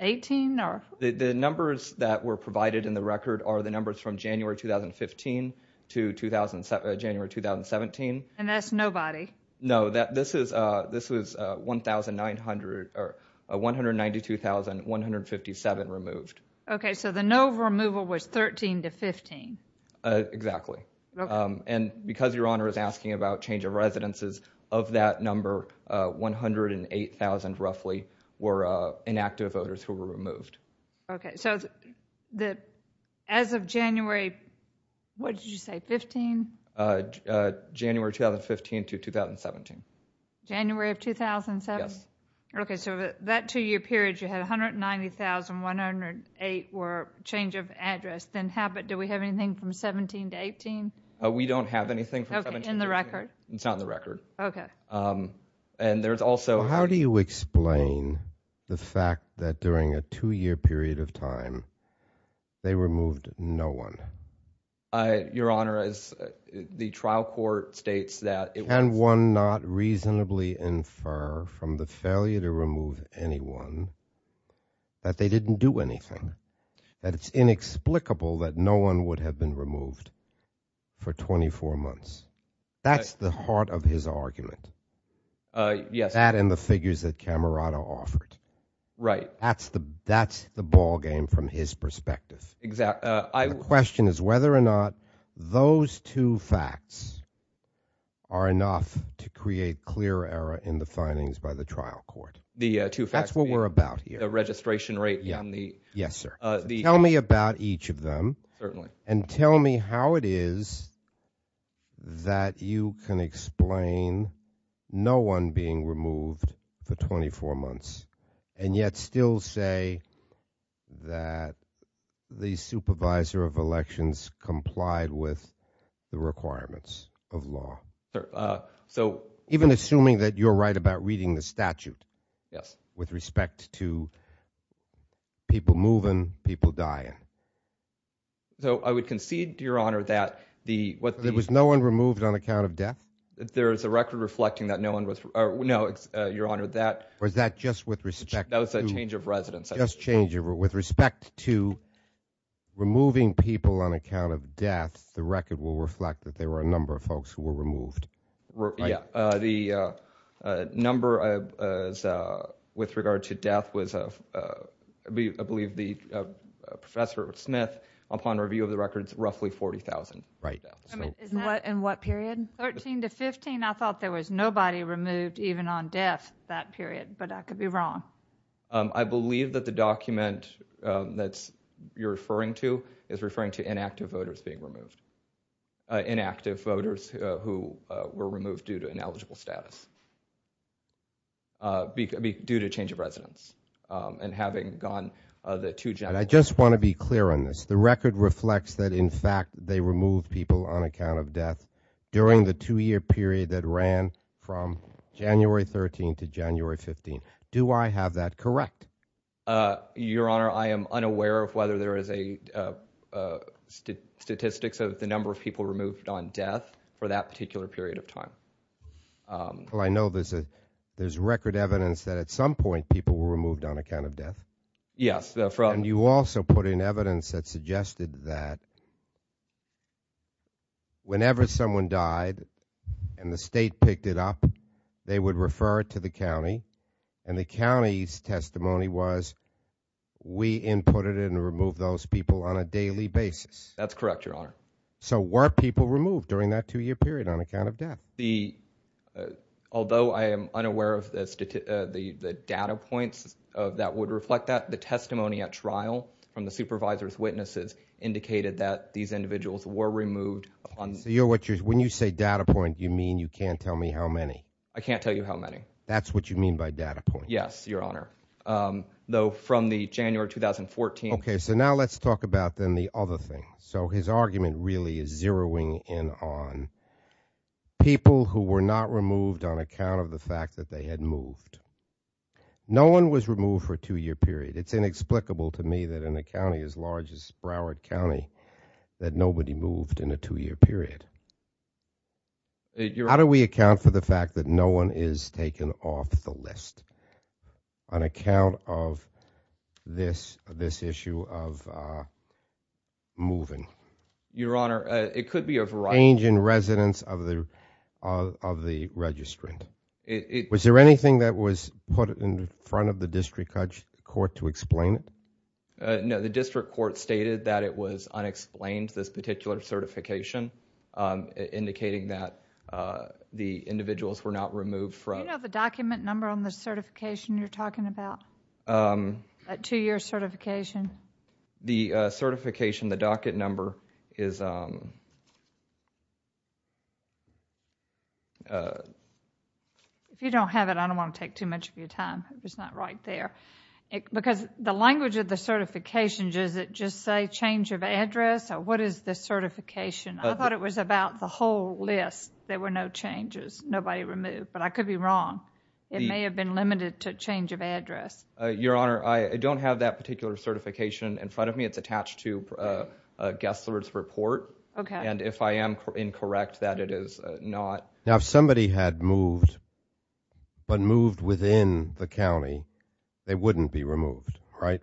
18 or... The numbers that were provided in the record are the numbers from January 2015 to January 2017. And that's nobody? No, this was 1,900 or 192,157 removed. OK, so the no removal was 13 to 15. Exactly. And because Your Honor is asking about change of residences, of that number, 108,000 roughly were inactive voters who were removed. OK, so as of January, what did you say, 15? January 2015 to 2017. January of 2017? Yes. OK, so that two-year period, you had 190,108 were change of address. Then do we have anything from 17 to 18? We don't have anything from 17 to 18. OK, in the record? It's on the record. OK. And there's also... How do you explain the fact that during a two-year period of time, they removed no one? Your Honor, the trial court states that... And one not reasonably infer from the failure to remove anyone that they didn't do anything. That it's inexplicable that no one would have been removed for 24 months. That's the heart of his argument. Yes. That and the figures that Camerata offered. Right. That's the ballgame from his perspective. Exactly. Question is whether or not those two facts are enough to create clear error in the findings by the trial court. The two facts... That's what we're about here. The registration rate and the... Yes, sir. Tell me about each of them. Certainly. And tell me how it is that you can explain no one being removed for 24 months and yet still say that the supervisor of elections complied with the requirements of law. Sir, so... Even assuming that you're right about reading the statute. Yes. With respect to people moving, people dying. So I would concede, Your Honor, that the... There was no one removed on account of death? There's a record reflecting that no one was... No, Your Honor, that... Or is that just with respect to... That was a change of residence. With respect to removing people on account of death, the record will reflect that there were a number of folks who were removed. Yeah. The number with regard to death was, I believe, Professor Smith, upon review of the records, roughly 40,000. Right. In what period? 13 to 15. I thought there was nobody removed even on death that period, but I could be wrong. I believe that the document that you're referring to is referring to inactive voters being removed. Inactive voters who were removed due to ineligible status. Due to change of residence. And having gone the two... I just want to be clear on this. The record reflects that, in fact, they removed people on account of death during the two-year period that ran from January 13 to January 15. Do I have that correct? Your Honor, I am unaware of whether there is a statistics of the number of people removed on death for that particular period of time. Well, I know there's record evidence that, at some point, people were removed on account of death. Yes. And you also put in evidence that suggested that whenever someone died and the state picked it up, they would refer it to the county. And the county's testimony was, we inputted it and removed those people on a daily basis. That's correct, Your Honor. So were people removed during that two-year period on account of death? Although I am unaware of the data points that would reflect that, the testimony at trial from the supervisor's witnesses indicated that these individuals were removed on... So you're what you're... When you say data point, you mean you can't tell me how many? I can't tell you how many. That's what you mean by data point? Yes, Your Honor. Though from the January 2014... Okay, so now let's talk about, then, the other thing. So his argument really is zeroing in on people who were not removed on account of the fact that they had moved. No one was removed for a two-year period. It's inexplicable to me that in a county as large as Broward County that nobody moved in a two-year period. How do we account for the fact that no one is taken off the list on account of this issue of moving? Your Honor, it could be a variety... ...change in residence of the registrant. Was there anything that was put in front of the district court to explain it? No, the district court stated that it was unexplained, the titular certification. Indicating that the individuals were not removed from... Do you know the document number on the certification you're talking about? That two-year certification? The certification, the docket number, is... If you don't have it, I don't want to take too much of your time. It's not right there. Because the language of the certification, does it just say change of address, what is the certification? I thought it was about the whole list. There were no changes. Nobody removed. But I could be wrong. It may have been limited to change of address. Your Honor, I don't have that particular certification in front of me. It's attached to Gessler's report. And if I am incorrect, that it is not... Now, if somebody had moved, but moved within the county, they wouldn't be removed, right?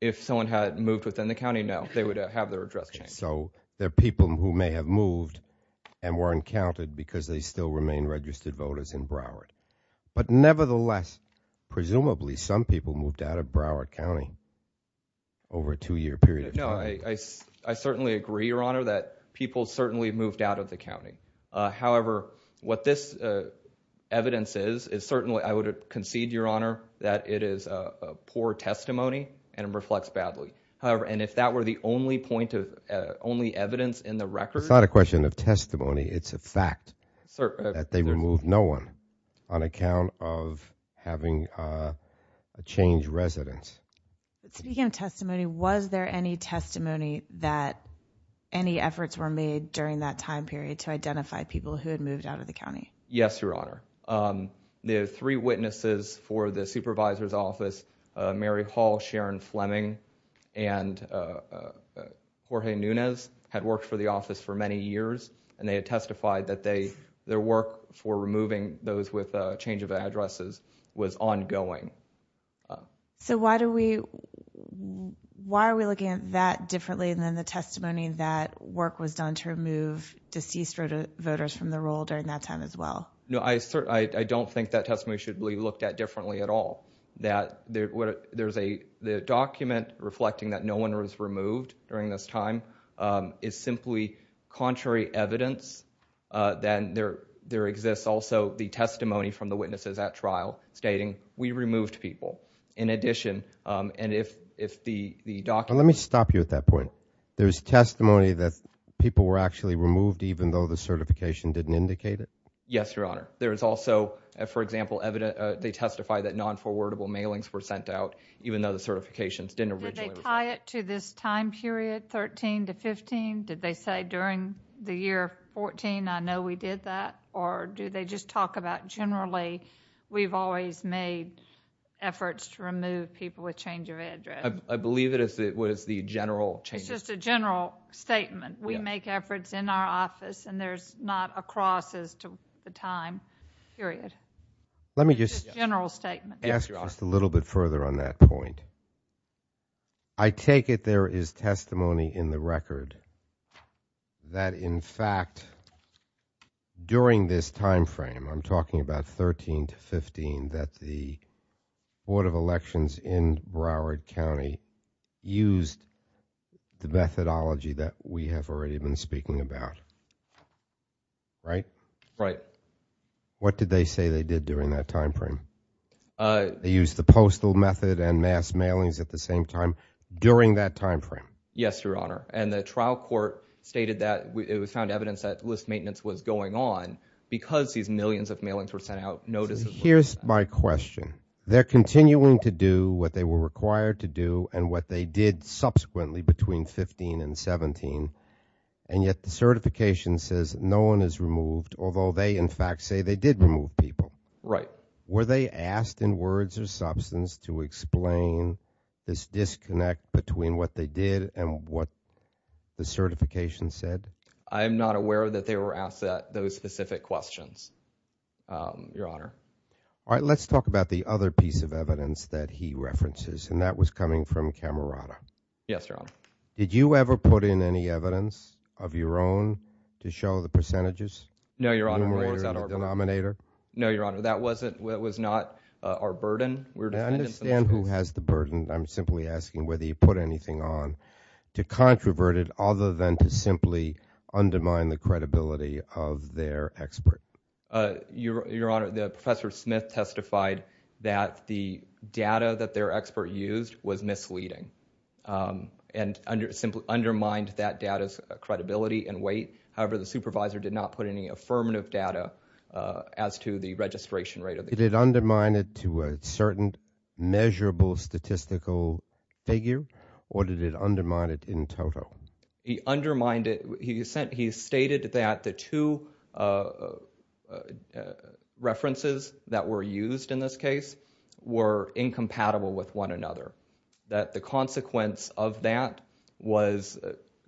If someone had moved within the county now, they would have their address changed. So there are people who may have moved and weren't counted because they still remain registered voters in Broward. But nevertheless, presumably, some people moved out of Broward County over a two-year period of time. No, I certainly agree, Your Honor, that people certainly moved out of the county. However, what this evidence is, is certainly... Concede, Your Honor, that it is a poor testimony and it reflects badly. However, and if that were the only point of... Only evidence in the record... It's not a question of testimony. It's a fact that they removed no one on account of having a changed residence. To begin testimony, was there any testimony that any efforts were made during that time period to identify people who had moved out of the county? Yes, Your Honor. The three witnesses for the supervisor's office, Mary Hall, Sharon Fleming, and Jorge Nunez, had worked for the office for many years, and they had testified that their work for removing those with change of addresses was ongoing. So why are we looking at that differently than the testimony that work was done to remove deceased voters from the roll during that time as well? No, I don't think that testimony should be looked at differently at all. There's a document reflecting that no one was removed during this time. It's simply contrary evidence. Then there exists also the testimony from the witnesses at trial stating, we removed people. In addition, and if the document... Let me stop you at that point. There's testimony that people were actually removed, even though the certification didn't indicate it? Yes, Your Honor. There's also, for example, they testify that non-forwardable mailings were sent out, even though the certification didn't... Did they tie it to this time period, 13 to 15? Did they say during the year 14, I know we did that? Or do they just talk about generally, we've always made efforts to remove people with change of address? I believe it was the general change. It's just a general statement. We make efforts in our office and there's not a cross as to the time period. Let me just... It's a general statement. Yes, Your Honor. Just a little bit further on that point. I take it there is testimony in the record that, in fact, during this time frame, I'm talking about 13 to 15, that the Board of Elections in Broward County used the methodology that we have already been speaking about, right? Right. What did they say they did during that time frame? They used the postal method and mass mailings at the same time during that time frame? Yes, Your Honor. And the trial court stated that it was found evidence that list maintenance was going on because these millions of mailings were sent out. Here's my question. They're continuing to do what they were required to do and what they did subsequently between 15 and 17. And yet the certification says no one is removed, although they, in fact, say they did remove people. Right. Were they asked in words or substance to explain this disconnect between what they did and what the certification said? I'm not aware that they were asked those specific questions, Your Honor. All right. Let's talk about the other piece of evidence that he references, and that was coming from Camerata. Yes, Your Honor. Did you ever put in any evidence of your own to show the percentages? No, Your Honor. No, Your Honor. That was not our burden. I understand who has the burden. I'm simply asking whether you put anything on to controverted other than to simply undermine the credibility of their expert. Your Honor, Professor Smith testified that the data that their expert used was misleading and simply undermined that data's credibility and weight. However, the supervisor did not put any affirmative data as to the registration rate. Did it undermine it to a certain measurable statistical figure or did it undermine it in total? He undermined it. He stated that the two references that were used in this case were incompatible with one another, that the consequence of that was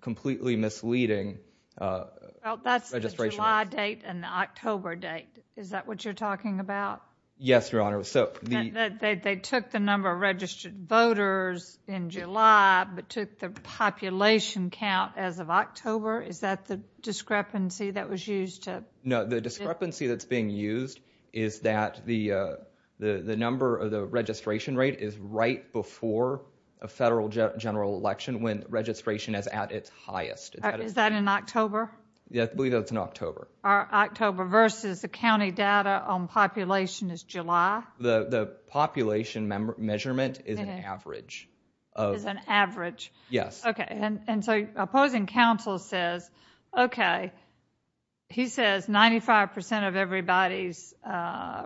completely misleading. That's the July date and the October date. Is that what you're talking about? Yes, Your Honor. They took the number of registered voters in July but took the population count as of October. Is that the discrepancy that was used? No, the discrepancy that's being used is that the number of the registration rate is right before a federal general election when registration is at its highest. Is that in October? Yes, I believe that's in October. October versus the county data on population is July? The population measurement is an average. It's an average? Yes. Okay, and so opposing counsel says, okay, he says 95% of everybody's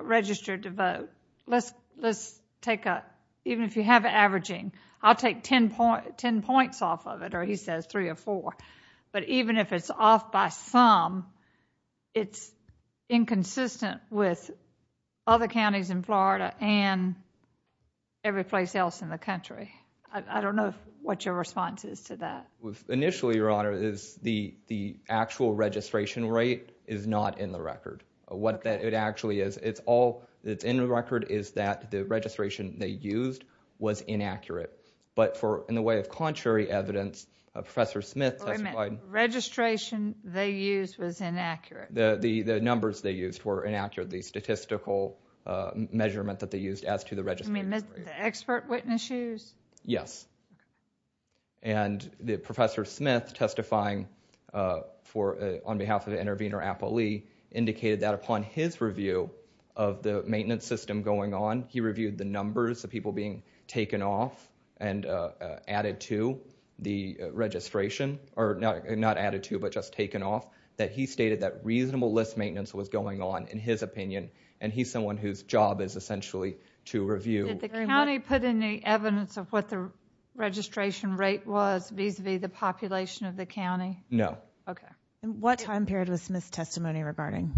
registered to vote. Let's take a, even if you have averaging, I'll take 10 points off of it or he says three or four. But even if it's off by some, it's inconsistent with other counties in Florida and every place else in the country. I don't know what your response is to that. Initially, Your Honor, is the actual registration rate is not in the record. What it actually is, it's all in the record is that the registration they used was inaccurate. But in a way of contrary evidence, Professor Smith- Registration they used was inaccurate. The numbers they used were inaccurate, the statistical measurement that they used as to the registration rate. Expert witnesses? Yes. And Professor Smith testifying on behalf of the intervener, Apple Lee, indicated that upon his review of the maintenance system going on, he reviewed the numbers of people being taken off and added to the registration, or not added to, but just taken off, that he stated that reasonable list maintenance was going on in his opinion. And he's someone whose job is essentially to review- Did the county put any evidence of what the registration rate was vis-a-vis the population of the county? No. Okay. And what time period was Smith's testimony regarding?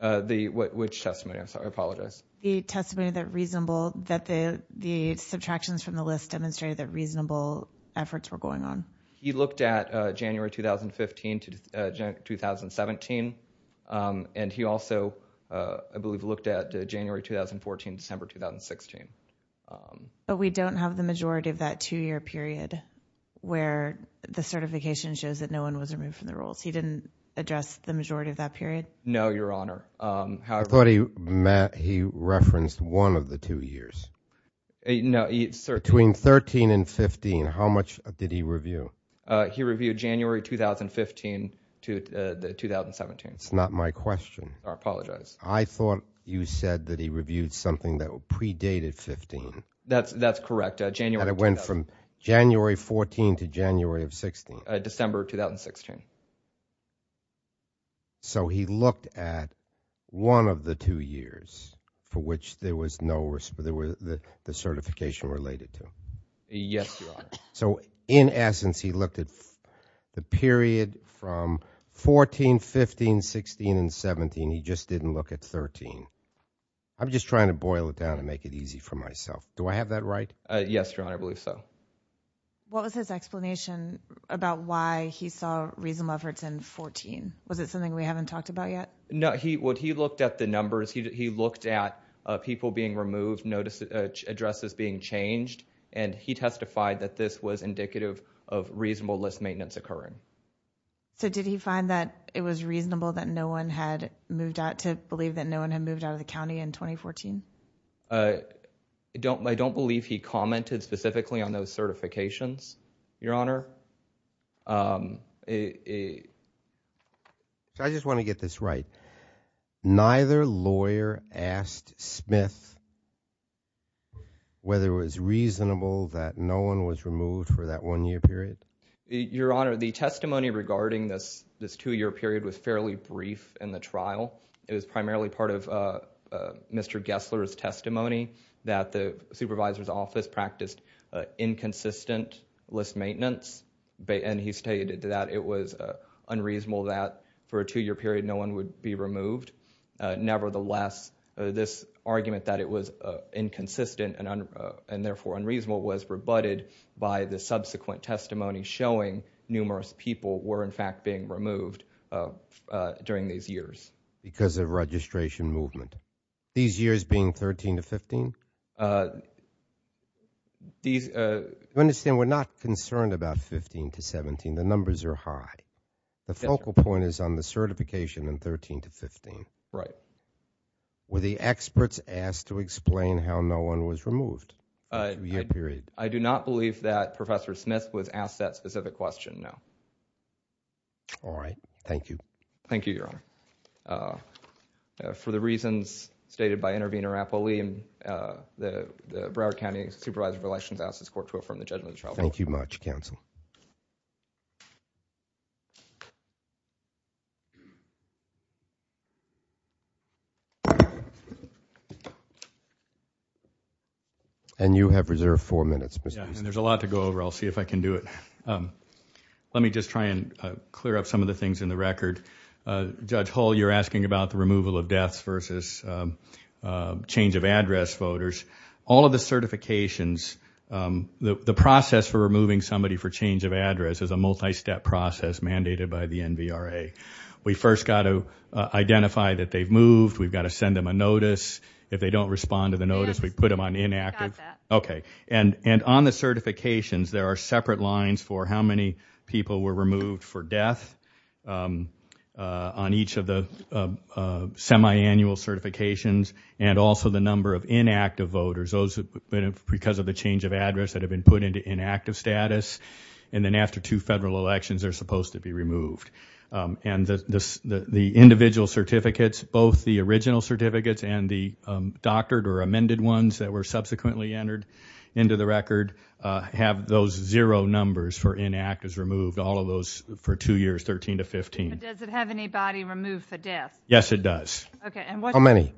The, which testimony, I'm sorry, I apologize. The testimony that reasonable, that the subtractions from the list demonstrated that reasonable efforts were going on. He looked at January 2015 to 2017. And he also, I believe, looked at January 2014, December 2016. But we don't have the majority of that two-year period where the certification shows that no one was removed from the roles. He didn't address the majority of that period? No, Your Honor. I thought he referenced one of the two years. No, he- Between 13 and 15, how much did he review? He reviewed January 2015 to the 2017. It's not my question. I apologize. I thought you said that he reviewed something that predated 15. That's correct. And it went from January 14 to January of 16. December 2016. So he looked at one of the two years for which there was no, there was the certification related to. Yes, Your Honor. So in essence, he looked at the period from 14, 15, 16, and 17. He just didn't look at 13. I'm just trying to boil it down and make it easy for myself. Do I have that right? Yes, Your Honor, I believe so. What was his explanation about why he saw reasonable efforts in 14? Was it something we haven't talked about yet? No, when he looked at the numbers, he looked at people being removed, notice addresses being changed. And he testified that this was indicative of reasonable list maintenance occurring. So did he find that it was reasonable that no one had moved out, to believe that no one had moved out of the county in 2014? I don't believe he commented specifically on those certifications, Your Honor. I just want to get this right. Neither lawyer asked Smith whether it was reasonable that no one was removed for that one-year period? Your Honor, the testimony regarding this two-year period was fairly brief in the trial. It was primarily part of Mr. Gessler's testimony that the supervisor's office practiced inconsistent list maintenance. And he stated that it was unreasonable that for a two-year period, no one would be removed. Nevertheless, this argument that it was inconsistent and therefore unreasonable was rebutted by the subsequent testimony showing numerous people were in fact being removed during these years. Because of registration movement. These years being 13 to 15? You understand, we're not concerned about 15 to 17. The numbers are high. The focal point is on the certification in 13 to 15. Right. Were the experts asked to explain how no one was removed for two-year periods? I do not believe that Professor Smith was asked that specific question, no. All right, thank you. Thank you, Your Honor. For the reasons stated by Intervenor Rapoli and the Broward County Supervisor of Relations, I ask this court to affirm the judgment of trial. Thank you much, counsel. And you have reserved four minutes. Yeah, and there's a lot to go over. I'll see if I can do it. Let me just try and clear up some of the things in the record. Judge Hull, you're asking about the removal of deaths versus change of address voters. All of the certifications, the process for removing somebody for change of address is a multi-step process mandated by the NBRA. We first got to identify that they've moved. We've got to send them a notice. If they don't respond to the notice, we put them on inactive. Okay, and on the certifications, there are separate lines for how many people were removed for death. On each of the semi-annual certifications and also the number of inactive voters, those have been because of the change of address that have been put into inactive status. And then after two federal elections, they're supposed to be removed. And the individual certificates, both the original certificates and the doctored or amended ones that were subsequently entered into the record have those zero numbers for inactives removed, all of those for two years, 13 to 15. Does it have anybody removed for death? Yes, it does. Okay, and what- How many?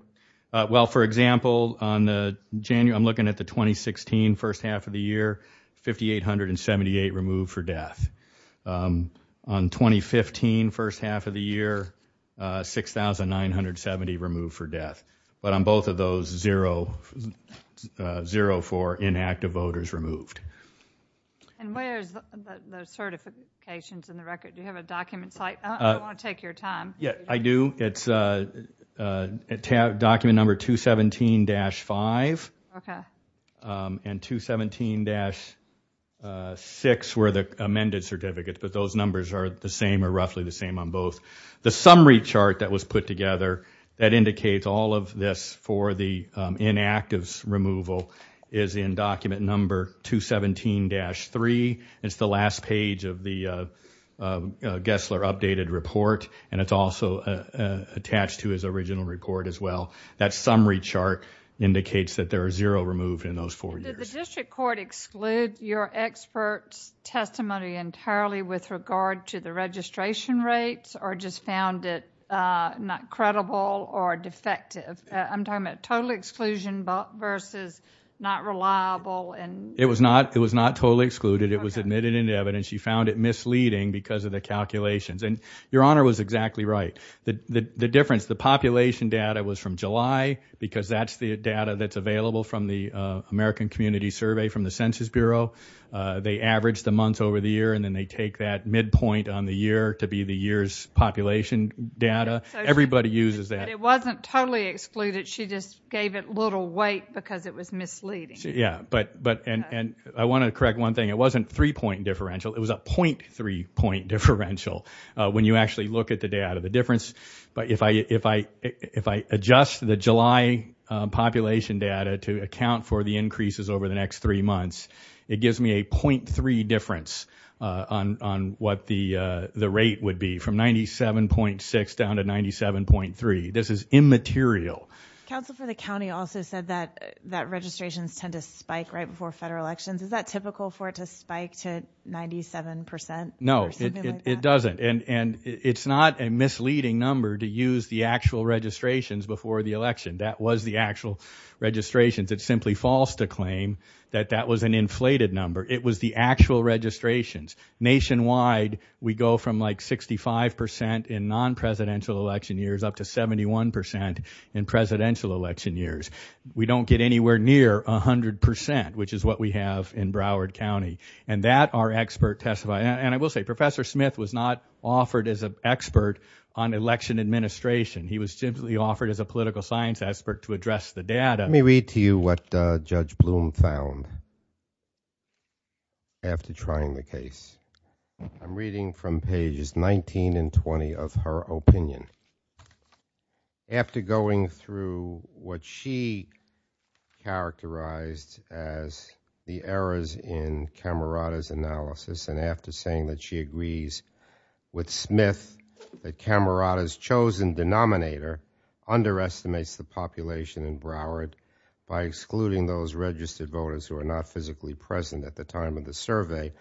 Well, for example, on the January, I'm looking at the 2016 first half of the year, 5,878 removed for death. On 2015 first half of the year, 6,970 removed for death. But on both of those, zero for inactive voters removed. And where's the certifications in the record? Do you have a document? Yeah, I do. It's document number 217-5. And 217-6 were the amended certificates, but those numbers are the same or roughly the same on both. The summary chart that was put together that indicates all of this for the inactives removal is in document number 217-3. It's the last page of the Gessler updated report, and it's also attached to his original record as well. That summary chart indicates that there are zero removed in those four years. Did the district court exclude your expert testimony entirely with regard to the registration rates or just found it not credible or defective? I'm talking about total exclusion versus not reliable and- It was not totally excluded. It was admitted in the evidence. You found it misleading because of the calculations. And Your Honor was exactly right. The difference, the population data was from July because that's the data that's available from the American Community Survey from the Census Bureau. They averaged a month over the year and then they take that midpoint on the year to be the year's population data. Everybody uses that. It wasn't totally excluded. She just gave it a little weight because it was misleading. Yeah, and I want to correct one thing. It wasn't three point differential. It was a 0.3 point differential when you actually look at the data, the difference. But if I adjust the July population data to account for the increases over the next three months, it gives me a 0.3 difference on what the rate would be from 97.6 down to 97.3. This is immaterial. Counsel for the county also said that registrations tend to spike right before federal elections. Is that typical for it to spike to 97%? No, it doesn't. And it's not a misleading number to use the actual registrations before the election. That was the actual registration that simply false to claim that that was an inflated number. It was the actual registrations. Nationwide, we go from like 65% in non-presidential election years up to 71% in presidential election years. We don't get anywhere near 100%, which is what we have in Broward County. And that our expert testified. And I will say Professor Smith was not offered as an expert on election administration. He was simply offered as a political science expert to address the data. Let me read to you what Judge Bloom found after trying the case. I'm reading from pages 19 and 20 of her opinion. After going through what she characterized as the errors in Camerata's analysis. And after saying that she agrees with Smith, the Camerata's chosen denominator underestimates the population in Broward by excluding those registered voters who are not physically present at the time of the survey.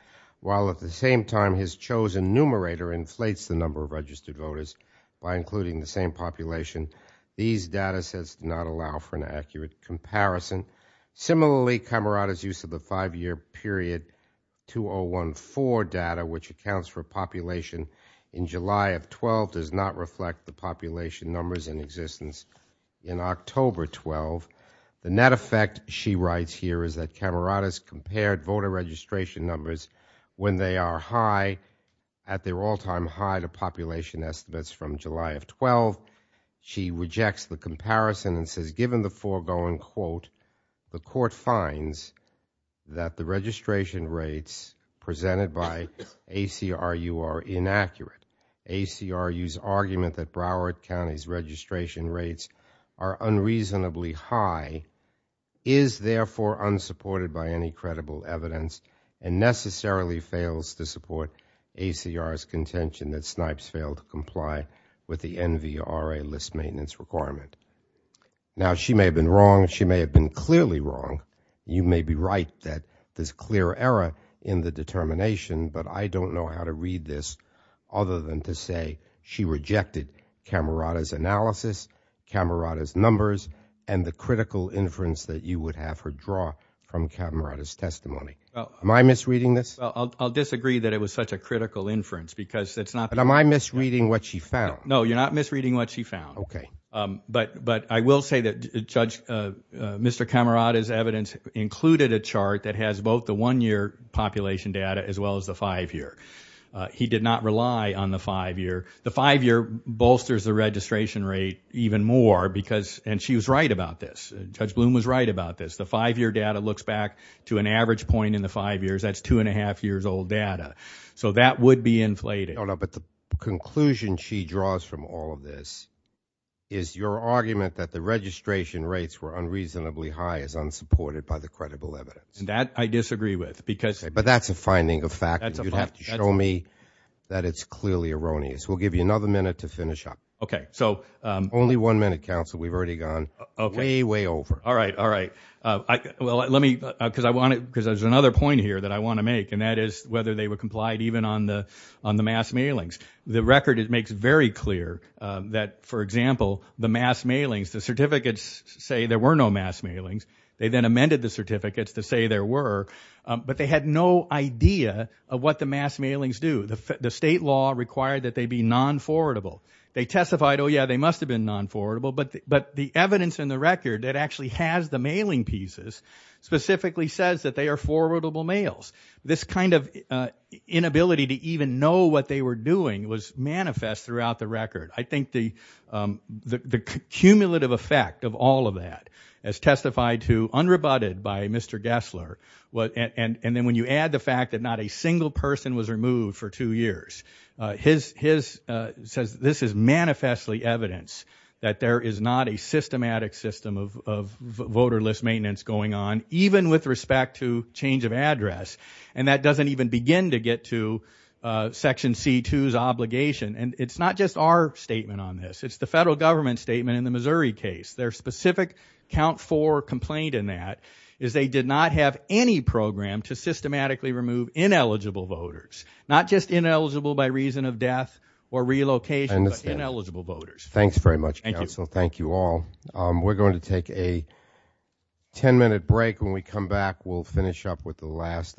While at the same time, his chosen numerator inflates the number of registered voters by including the same population. These data sets not allow for an accurate comparison. Similarly, Camerata's use of the five-year period 2014 data, which accounts for population in July of 12, does not reflect the population numbers in existence in October 12. The net effect she writes here is that Camerata's compared voter registration numbers when they are high at their all time high to population estimates from July of 12. She rejects the comparison and says, given the foregoing quote, the court finds that the registration rates presented by ACRU are inaccurate. ACRU's argument that Broward County's registration rates are unreasonably high is therefore unsupported by any credible evidence and necessarily fails to support ACR's contention that Snipes failed to comply with the NVRA list maintenance requirement. Now, she may have been wrong. She may have been clearly wrong. You may be right that this clear error in the determination, but I don't know how to read this other than to say she rejected Camerata's analysis, Camerata's numbers, and the critical inference that you would have her draw from Camerata's testimony. Am I misreading this? I'll disagree that it was such a critical inference because it's not. Am I misreading what she found? No, you're not misreading what she found. But I will say that, Judge, Mr. Camerata's evidence included a chart that has both the one-year population data as well as the five-year. He did not rely on the five-year. The five-year bolsters the registration rate even more because, and she was right about this. Judge Bloom was right about this. The five-year data looks back to an average point in the five years. That's two and a half years old data. So that would be inflated. No, no, but the conclusion she draws from all of this is your argument that the registration rates were unreasonably high as unsupported by the credible evidence. And that I disagree with because- But that's a finding of fact. You have to show me that it's clearly erroneous. We'll give you another minute to finish up. Okay, so- Only one minute, counsel. We've already gone way, way over. All right, all right. Well, let me, because I want it, because there's another point here that I want to make, and that is whether they were complied even on the mass mailings. The record, it makes very clear that, for example, the mass mailings, the certificates say there were no mass mailings. They then amended the certificates to say there were, but they had no idea of what the mass mailings do. The state law required that they be non-forwardable. They testified, oh yeah, they must have been non-forwardable, but the evidence in the record that actually has the mailing pieces specifically says that they are forwardable mails. This kind of inability to even know what they were doing was manifest throughout the record. I think the cumulative effect of all of that as testified to unrebutted by Mr. Gessler, and then when you add the fact that not a single person was removed for two years, this is manifestly evidence that there is not a systematic system of voterless maintenance going on, even with respect to change of address, and that doesn't even begin to get to Section C-2's obligation. It's not just our statement on this. It's the federal government statement in the Missouri case. Their specific count for complaint in that is they did not have any program to systematically remove ineligible voters, not just ineligible by reason of death or relocation, but ineligible voters. Thanks very much, counsel. Thank you all. We're going to take a 10-minute break. When we come back, we'll finish up with the last.